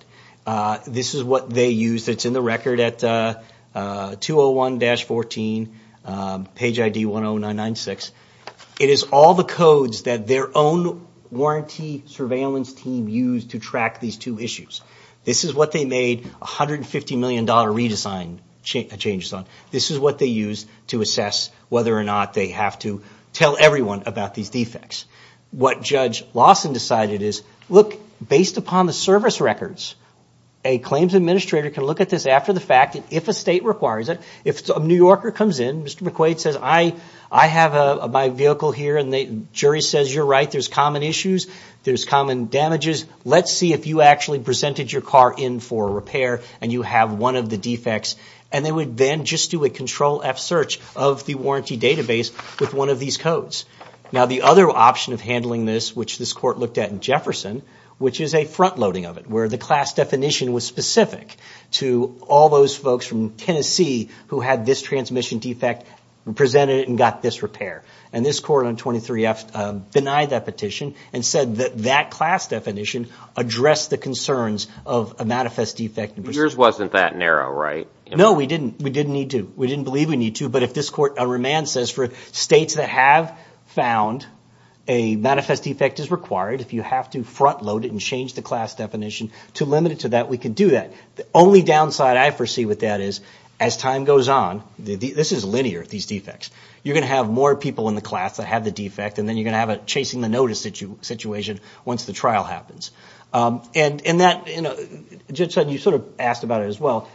This is what they used. It's in the record at 201-14, page ID 10996. It is all the codes that their own warranty surveillance team used to track these two issues. This is what they made $150 million redesign changes on. This is what they used to assess whether or not they have to tell everyone about these defects. What Judge Lawson decided is, look, based upon the service records, a claims administrator can look at this after the fact, and if a state requires it, if a New Yorker comes in, Mr. McQuaid says, I have my vehicle here, and the jury says, you're right, there's common issues, there's common damages, let's see if you actually presented your car in for repair, and you have one of the defects, and they would then just do a Control-F search of the warranty database with one of these codes. Now, the other option of handling this, which this court looked at in Jefferson, which is a front-loading of it, where the class definition was specific to all those folks from Tennessee who had this transmission defect, presented it, and got this repair. And this court on 23F denied that petition and said that that class definition addressed the concerns of a manifest defect. Yours wasn't that narrow, right? No, we didn't. We didn't need to. We didn't believe we need to, but if this court on remand says for states that have found a manifest defect is required, if you have to front-load it and change the class definition to limit it to that, we can do that. The only downside I foresee with that is, as time goes on, this is linear, these defects, you're going to have more people in the class that have the defect, and then you're going to have a chasing the notice situation once the trial happens. And Judge Sutton, you sort of asked about it as well.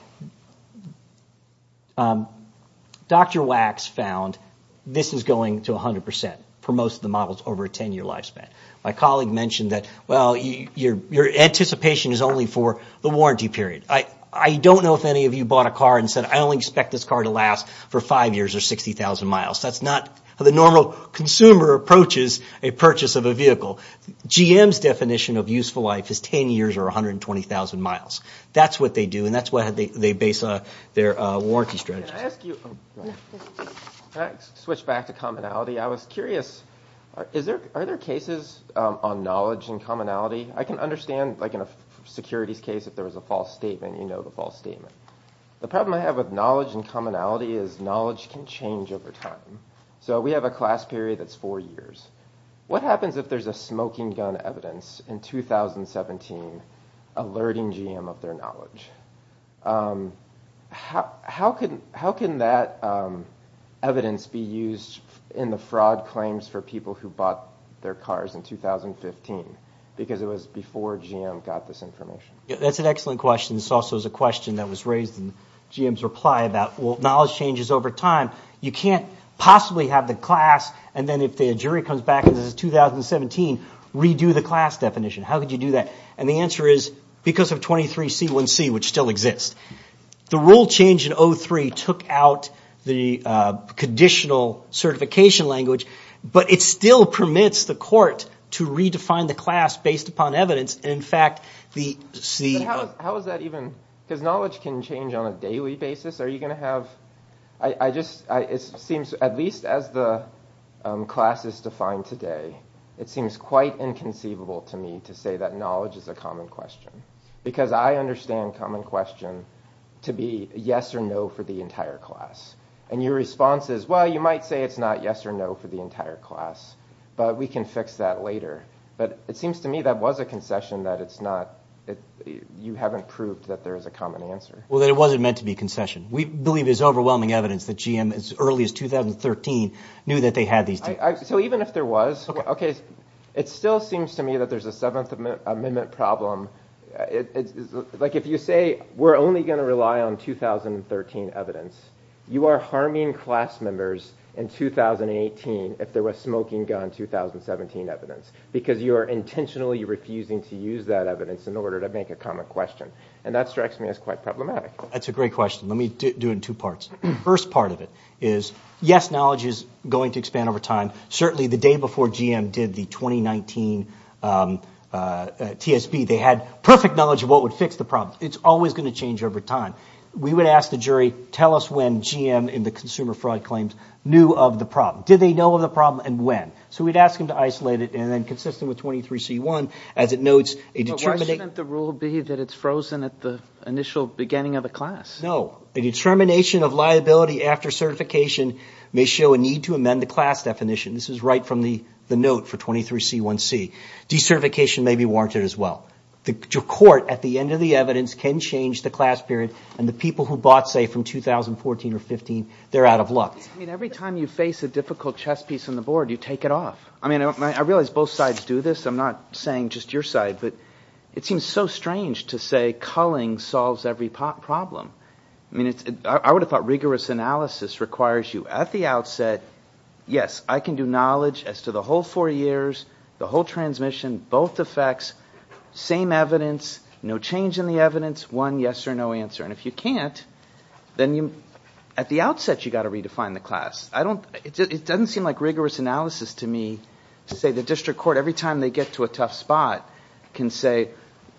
Dr. Wax found this is going to 100% for most of the models over a 10-year lifespan. My colleague mentioned that, well, your anticipation is only for the warranty period. I don't know if any of you bought a car and said, I only expect this car to last for five years or 60,000 miles. That's not how the normal consumer approaches a purchase of a vehicle. GM's definition of useful life is 10 years or 120,000 miles. That's what they do, and that's what they base their warranty strategy on. Can I switch back to commonality? I was curious, are there cases on knowledge and commonality? I can understand, like in a securities case, if there was a false statement, you know the false statement. The problem I have with knowledge and commonality is knowledge can change over time. So we have a class period that's four years. What happens if there's a smoking gun evidence in 2017 alerting GM of their knowledge? How can that evidence be used in the fraud claims for people who bought their cars in 2015? Because it was before GM got this information. That's an excellent question. This also is a question that was raised in GM's reply about, well, knowledge changes over time. You can't possibly have the class, and then if the jury comes back and says 2017, redo the class definition. How could you do that? And the answer is, because of 23C1C, which still exists. The rule change in 03 took out the conditional certification language, but it still permits the court to redefine the class based upon evidence. In fact, the— How is that even—because knowledge can change on a daily basis. Are you going to have—it seems, at least as the class is defined today, it seems quite inconceivable to me to say that knowledge is a common question because I understand common question to be yes or no for the entire class. And your response is, well, you might say it's not yes or no for the entire class, but we can fix that later. But it seems to me that was a concession that it's not—you haven't proved that there is a common answer. Well, that it wasn't meant to be a concession. We believe there's overwhelming evidence that GM, as early as 2013, knew that they had these— So even if there was, it still seems to me that there's a Seventh Amendment problem. Like if you say we're only going to rely on 2013 evidence, you are harming class members in 2018 if there was smoking gun 2017 evidence because you are intentionally refusing to use that evidence in order to make a common question. And that strikes me as quite problematic. That's a great question. Let me do it in two parts. The first part of it is, yes, knowledge is going to expand over time. Certainly the day before GM did the 2019 TSP, they had perfect knowledge of what would fix the problem. It's always going to change over time. We would ask the jury, tell us when GM in the consumer fraud claims knew of the problem. Did they know of the problem and when? So we'd ask them to isolate it and then consistent with 23C1, as it notes— But why shouldn't the rule be that it's frozen at the initial beginning of a class? No. A determination of liability after certification may show a need to amend the class definition. This is right from the note for 23C1C. De-certification may be warranted as well. The court, at the end of the evidence, can change the class period and the people who bought, say, from 2014 or 2015, they're out of luck. I mean, every time you face a difficult chess piece on the board, you take it off. I mean, I realize both sides do this. I'm not saying just your side, but it seems so strange to say culling solves every problem. I mean, I would have thought rigorous analysis requires you at the outset, yes, I can do knowledge as to the whole four years, the whole transmission, both effects, same evidence, no change in the evidence, one yes or no answer. And if you can't, then at the outset you've got to redefine the class. It doesn't seem like rigorous analysis to me to say the district court, every time they get to a tough spot, can say,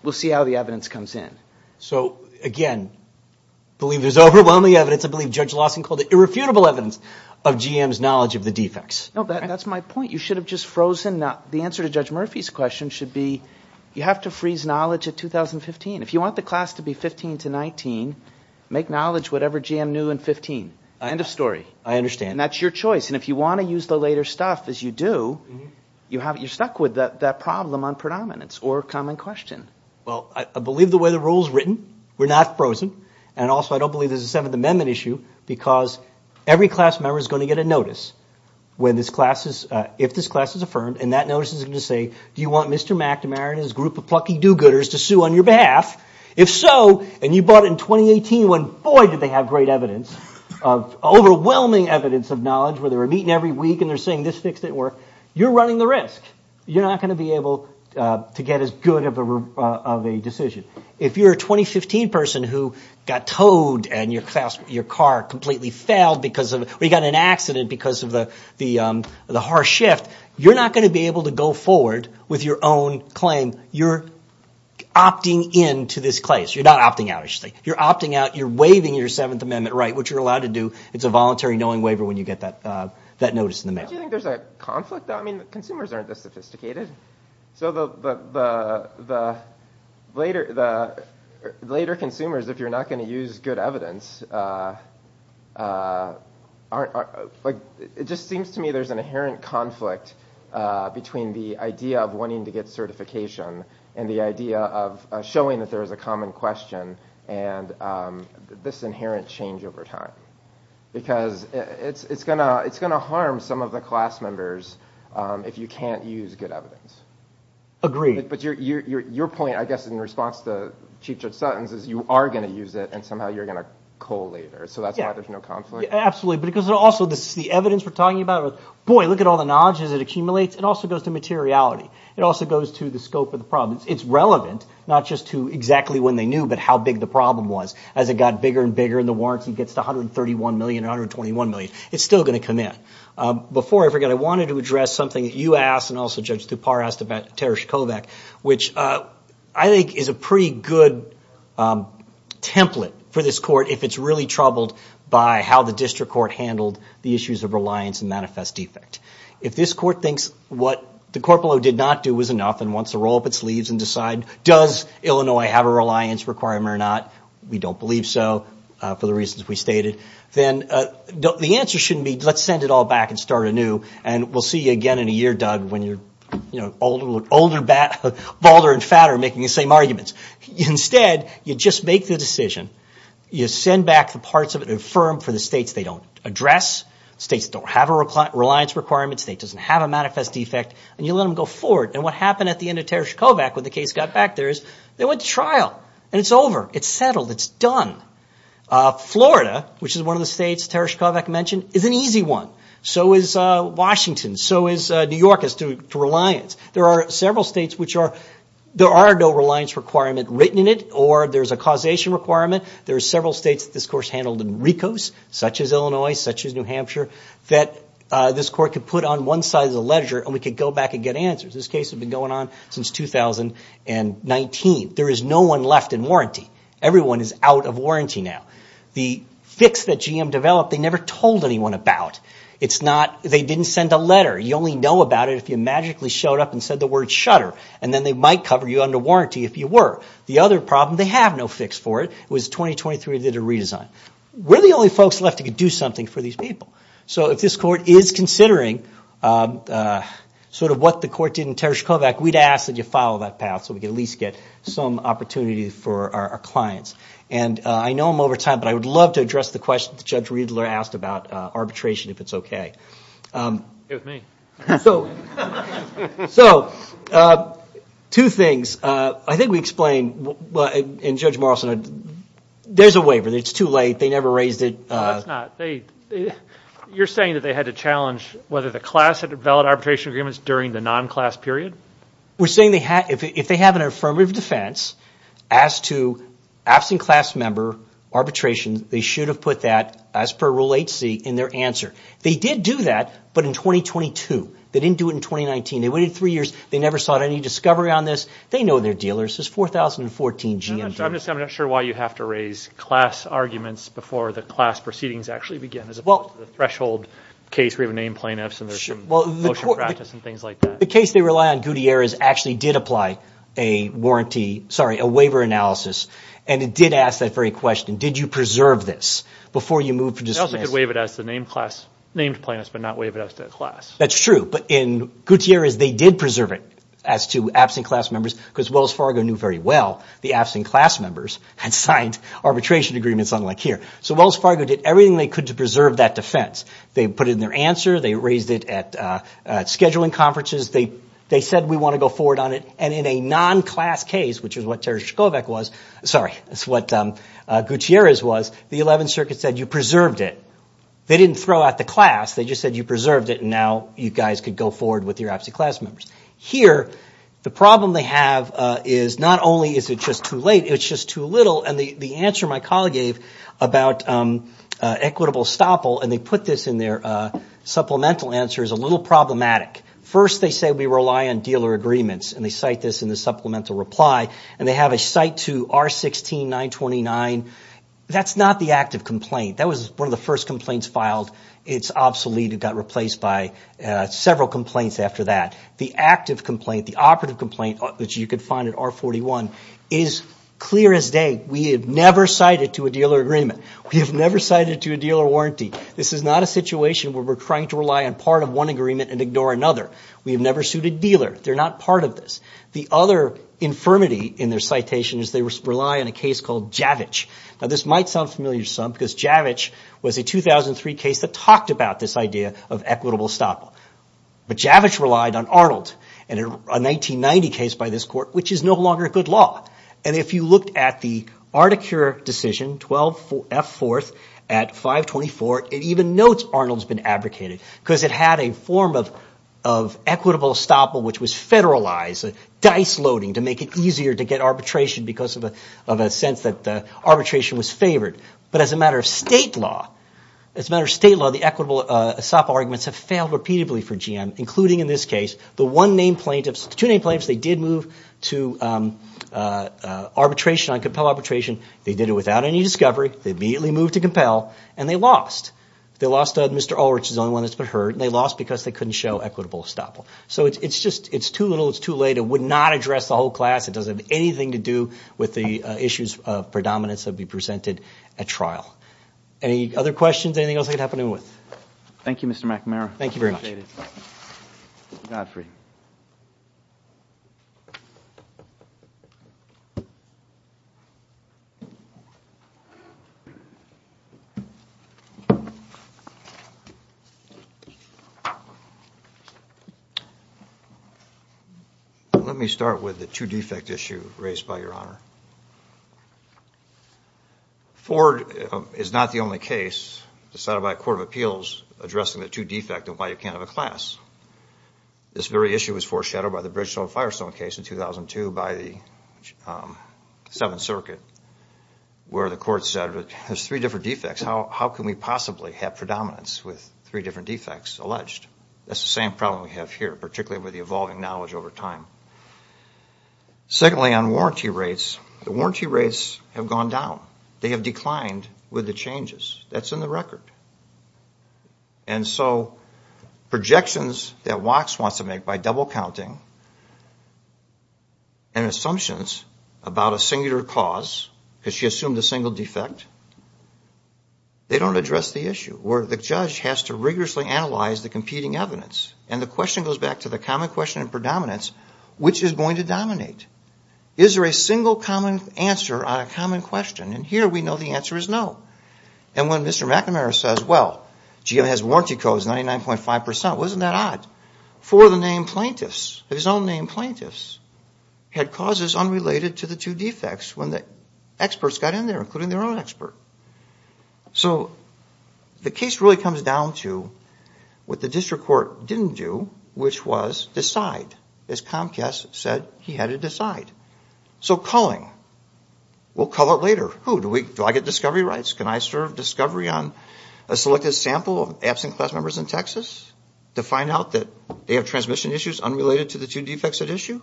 we'll see how the evidence comes in. So, again, believe there's overwhelming evidence. I believe Judge Lawson called it irrefutable evidence of GM's knowledge of the defects. No, that's my point. You should have just frozen the answer to Judge Murphy's question should be you have to freeze knowledge at 2015. If you want the class to be 15 to 19, make knowledge whatever GM knew in 15. End of story. I understand. And that's your choice. And if you want to use the later stuff, as you do, you're stuck with that problem on predominance or common question. Well, I believe the way the rule is written. We're not frozen. And also I don't believe there's a Seventh Amendment issue because every class member is going to get a notice if this class is affirmed, and that notice is going to say, do you want Mr. McNamara and his group of plucky do-gooders to sue on your behalf? If so, and you bought it in 2018 when, boy, did they have great evidence of overwhelming evidence of knowledge, where they were meeting every week and they're saying this fixed it work, you're running the risk. You're not going to be able to get as good of a decision. If you're a 2015 person who got towed and your car completely failed because of, or you got in an accident because of the harsh shift, you're not going to be able to go forward with your own claim. You're opting in to this clase. You're not opting out, I should say. You're opting out. You're waiving your Seventh Amendment right, which you're allowed to do. It's a voluntary knowing waiver when you get that notice in the mail. Don't you think there's a conflict, though? I mean, consumers aren't this sophisticated. So the later consumers, if you're not going to use good evidence, aren't – it just seems to me there's an inherent conflict between the idea of wanting to get certification and the idea of showing that there is a common question and this inherent change over time. Because it's going to harm some of the class members if you can't use good evidence. Agreed. But your point, I guess, in response to Chief Judge Sutton's is you are going to use it and somehow you're going to cull later. So that's why there's no conflict. Absolutely. Because also this is the evidence we're talking about. Boy, look at all the knowledge as it accumulates. It also goes to materiality. It also goes to the scope of the problem. It's relevant not just to exactly when they knew but how big the problem was. As it got bigger and bigger and the warranty gets to $131 million or $121 million, it's still going to come in. Before I forget, I wanted to address something that you asked and also Judge Tupar asked about Tereshkovic, which I think is a pretty good template for this court if it's really troubled by how the district court handled the issues of reliance and manifest defect. If this court thinks what the corporal did not do was enough and wants to roll up its sleeves and decide, does Illinois have a reliance requirement or not? We don't believe so for the reasons we stated. Then the answer shouldn't be let's send it all back and start anew. We'll see you again in a year, Doug, when you're older, balder, and fatter making the same arguments. Instead, you just make the decision. You send back the parts of it and affirm for the states they don't address, states that don't have a reliance requirement, states that don't have a manifest defect, and you let them go forward. What happened at the end of Tereshkovic when the case got back there is they went to trial, and it's over. It's settled. It's done. Florida, which is one of the states Tereshkovic mentioned, is an easy one. So is Washington. So is New York as to reliance. There are several states which there are no reliance requirements written in it or there's a causation requirement. There are several states that this court has handled in RICOS, such as Illinois, such as New Hampshire, that this court could put on one side of the ledger and we could go back and get answers. This case has been going on since 2019. There is no one left in warranty. Everyone is out of warranty now. The fix that GM developed they never told anyone about. They didn't send a letter. You only know about it if you magically showed up and said the word shutter, and then they might cover you under warranty if you were. The other problem, they have no fix for it. It was 2023, they did a redesign. We're the only folks left who could do something for these people. So if this court is considering sort of what the court did in Tereshkovic, we'd ask that you follow that path so we could at least get some opportunity for our clients. And I know I'm over time, but I would love to address the question that Judge Riedler asked about arbitration, if it's okay. It was me. So two things. I think we explained, and Judge Morrison, there's a waiver. It's too late. They never raised it. No, it's not. You're saying that they had to challenge whether the class had valid arbitration agreements during the non-class period? We're saying if they have an affirmative defense as to absent class member arbitration, they should have put that as per Rule 8c in their answer. They did do that, but in 2022. They didn't do it in 2019. They waited three years. They never sought any discovery on this. They know they're dealers. This is 4014 GMT. I'm not sure why you have to raise class arguments before the class proceedings actually begin. As opposed to the threshold case where you have named plaintiffs and there's some motion practice and things like that. The case they rely on, Gutierrez, actually did apply a waiver analysis, and it did ask that very question. Did you preserve this before you moved to defense? They also could waive it as the named plaintiffs but not waive it as the class. That's true, but in Gutierrez, they did preserve it as to absent class members because Wells Fargo knew very well the absent class members had signed arbitration agreements unlike here. So Wells Fargo did everything they could to preserve that defense. They put it in their answer. They raised it at scheduling conferences. They said we want to go forward on it, and in a non-class case, which is what Gutierrez was, the 11th Circuit said you preserved it. They didn't throw out the class. They just said you preserved it, and now you guys could go forward with your absent class members. Here, the problem they have is not only is it just too late, it's just too little, and the answer my colleague gave about equitable stoppel, and they put this in their supplemental answer, is a little problematic. First, they say we rely on dealer agreements, and they cite this in the supplemental reply, and they have a cite to R-16-929. That's not the active complaint. That was one of the first complaints filed. It's obsolete. It got replaced by several complaints after that. The active complaint, the operative complaint, which you could find at R-41, is clear as day. We have never cited to a dealer agreement. We have never cited to a dealer warranty. This is not a situation where we're trying to rely on part of one agreement and ignore another. We have never sued a dealer. They're not part of this. The other infirmity in their citation is they rely on a case called Javich. Now, this might sound familiar to some because Javich was a 2003 case that talked about this idea of equitable stoppel, but Javich relied on Arnold in a 1990 case by this court, which is no longer a good law, and if you looked at the Articure decision, F-4 at 524, it even notes Arnold's been abdicated because it had a form of equitable stoppel which was federalized, dice-loading, to make it easier to get arbitration because of a sense that arbitration was favored. But as a matter of state law, as a matter of state law, the equitable stoppel arguments have failed repeatedly for GM, including in this case the one-name plaintiffs, two-name plaintiffs. They did move to arbitration on compel arbitration. They did it without any discovery. They immediately moved to compel, and they lost. They lost Mr. Ulrich, who's the only one that's been heard, and they lost because they couldn't show equitable stoppel. So it's just too little, it's too late. It would not address the whole class. It doesn't have anything to do with the issues of predominance that would be presented at trial. Any other questions? Anything else I could help anyone with? Thank you, Mr. McNamara. Thank you very much. Godfrey. Let me start with the two-defect issue raised by Your Honor. Ford is not the only case decided by a court of appeals addressing the two-defect and why you can't have a class. This very issue was foreshadowed by the Bridgestone-Firestone case in 2002 by the Seventh Circuit, where the court said there's three different defects. How can we possibly have predominance with three different defects alleged? That's the same problem we have here, particularly with the evolving knowledge over time. Secondly, on warranty rates, the warranty rates have gone down. They have declined with the changes. That's in the record. And so projections that Wax wants to make by double-counting and assumptions about a singular cause, because she assumed a single defect, they don't address the issue, where the judge has to rigorously analyze the competing evidence. And the question goes back to the common question in predominance, which is going to dominate? Is there a single common answer on a common question? And here we know the answer is no. And when Mr. McNamara says, well, GA has warranty codes, 99.5 percent, wasn't that odd? Four of the named plaintiffs, his own named plaintiffs, had causes unrelated to the two defects when the experts got in there, including their own expert. So the case really comes down to what the district court didn't do, which was decide. As Comcast said, he had to decide. So culling. We'll cull it later. Do I get discovery rights? Can I serve discovery on a selected sample of absent class members in Texas to find out that they have transmission issues unrelated to the two defects at issue?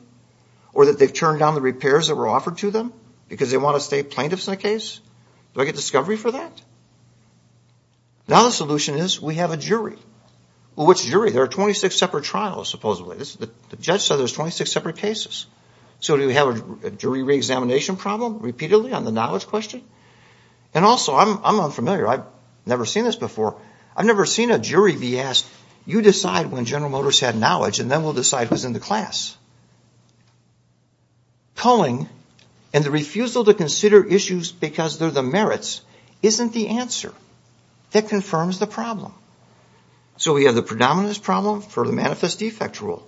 Or that they've turned down the repairs that were offered to them because they want to stay plaintiffs in the case? Do I get discovery for that? Now the solution is we have a jury. Well, which jury? There are 26 separate trials, supposedly. The judge said there's 26 separate cases. So do we have a jury reexamination problem repeatedly on the knowledge question? And also, I'm unfamiliar. I've never seen this before. I've never seen a jury be asked, you decide when General Motors had knowledge and then we'll decide who's in the class. Culling and the refusal to consider issues because they're the merits isn't the answer that confirms the problem. So we have the predominant problem for the manifest defect rule.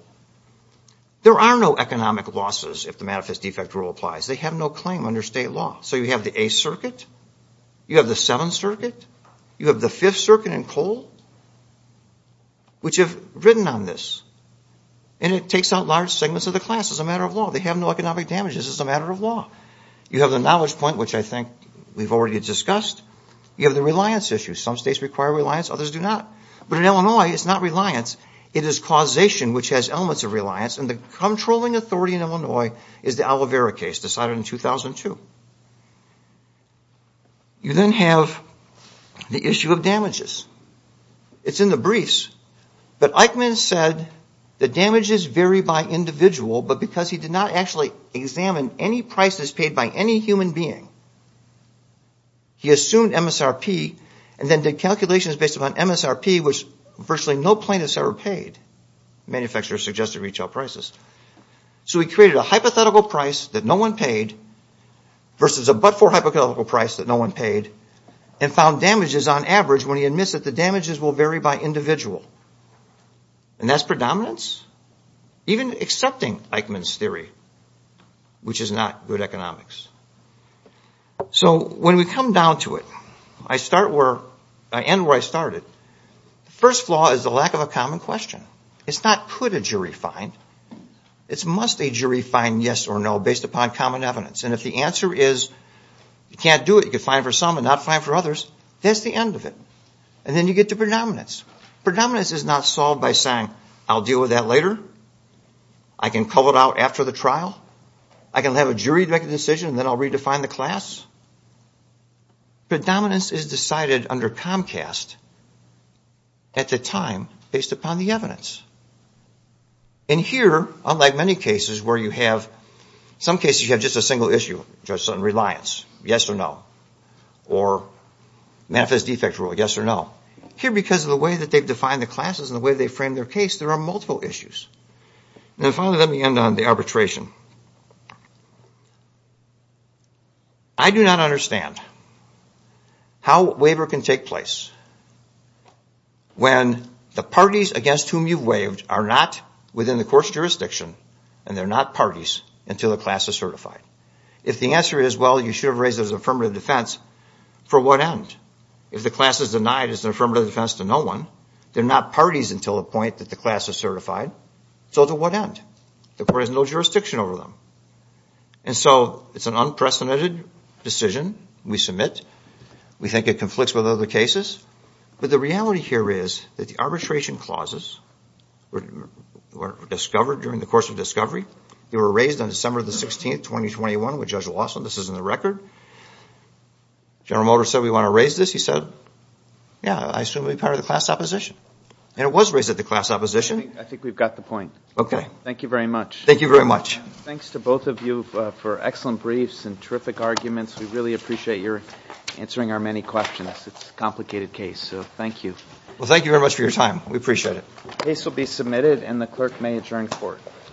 There are no economic losses if the manifest defect rule applies. They have no claim under state law. So you have the 8th Circuit. You have the 7th Circuit. You have the 5th Circuit and Cole, which have written on this. And it takes out large segments of the class as a matter of law. They have no economic damages as a matter of law. You have the knowledge point, which I think we've already discussed. You have the reliance issue. Some states require reliance. Others do not. But in Illinois, it's not reliance. It is causation, which has elements of reliance, and the controlling authority in Illinois is the Alavera case decided in 2002. You then have the issue of damages. It's in the briefs. But Eichmann said the damages vary by individual, but because he did not actually examine any prices paid by any human being, he assumed MSRP and then did calculations based upon MSRP, which virtually no plaintiffs ever paid. Manufacturers suggested retail prices. So he created a hypothetical price that no one paid versus a but-for hypothetical price that no one paid and found damages on average when he admits that the damages will vary by individual. And that's predominance, even accepting Eichmann's theory, which is not good economics. So when we come down to it, I end where I started. The first flaw is the lack of a common question. It's not could a jury find. It's must a jury find yes or no based upon common evidence. And if the answer is you can't do it, you could find for some and not find for others, that's the end of it. And then you get to predominance. Predominance is not solved by saying I'll deal with that later, I can call it out after the trial, I can have a jury make a decision and then I'll redefine the class. Predominance is decided under Comcast at the time based upon the evidence. And here, unlike many cases where you have, some cases you have just a single issue, just on reliance, yes or no. Or manifest defect rule, yes or no. Here because of the way that they've defined the classes and the way they've framed their case, there are multiple issues. And finally, let me end on the arbitration. I do not understand how waiver can take place when the parties against whom you've waived are not within the court's jurisdiction and they're not parties until the class is certified. If the answer is, well, you should have raised it as affirmative defense, for what end? If the class is denied as an affirmative defense to no one, they're not parties until the point that the class is certified, so to what end? The court has no jurisdiction over them. And so it's an unprecedented decision we submit. We think it conflicts with other cases. But the reality here is that the arbitration clauses were discovered during the course of discovery. They were raised on December the 16th, 2021 with Judge Lawson. This is in the record. General Motors said we want to raise this. He said, yeah, I assume it would be part of the class opposition. And it was raised at the class opposition. I think we've got the point. Okay. Thank you very much. Thank you very much. Thanks to both of you for excellent briefs and terrific arguments. We really appreciate your answering our many questions. It's a complicated case, so thank you. Well, thank you very much for your time. We appreciate it. The case will be submitted and the clerk may adjourn the court.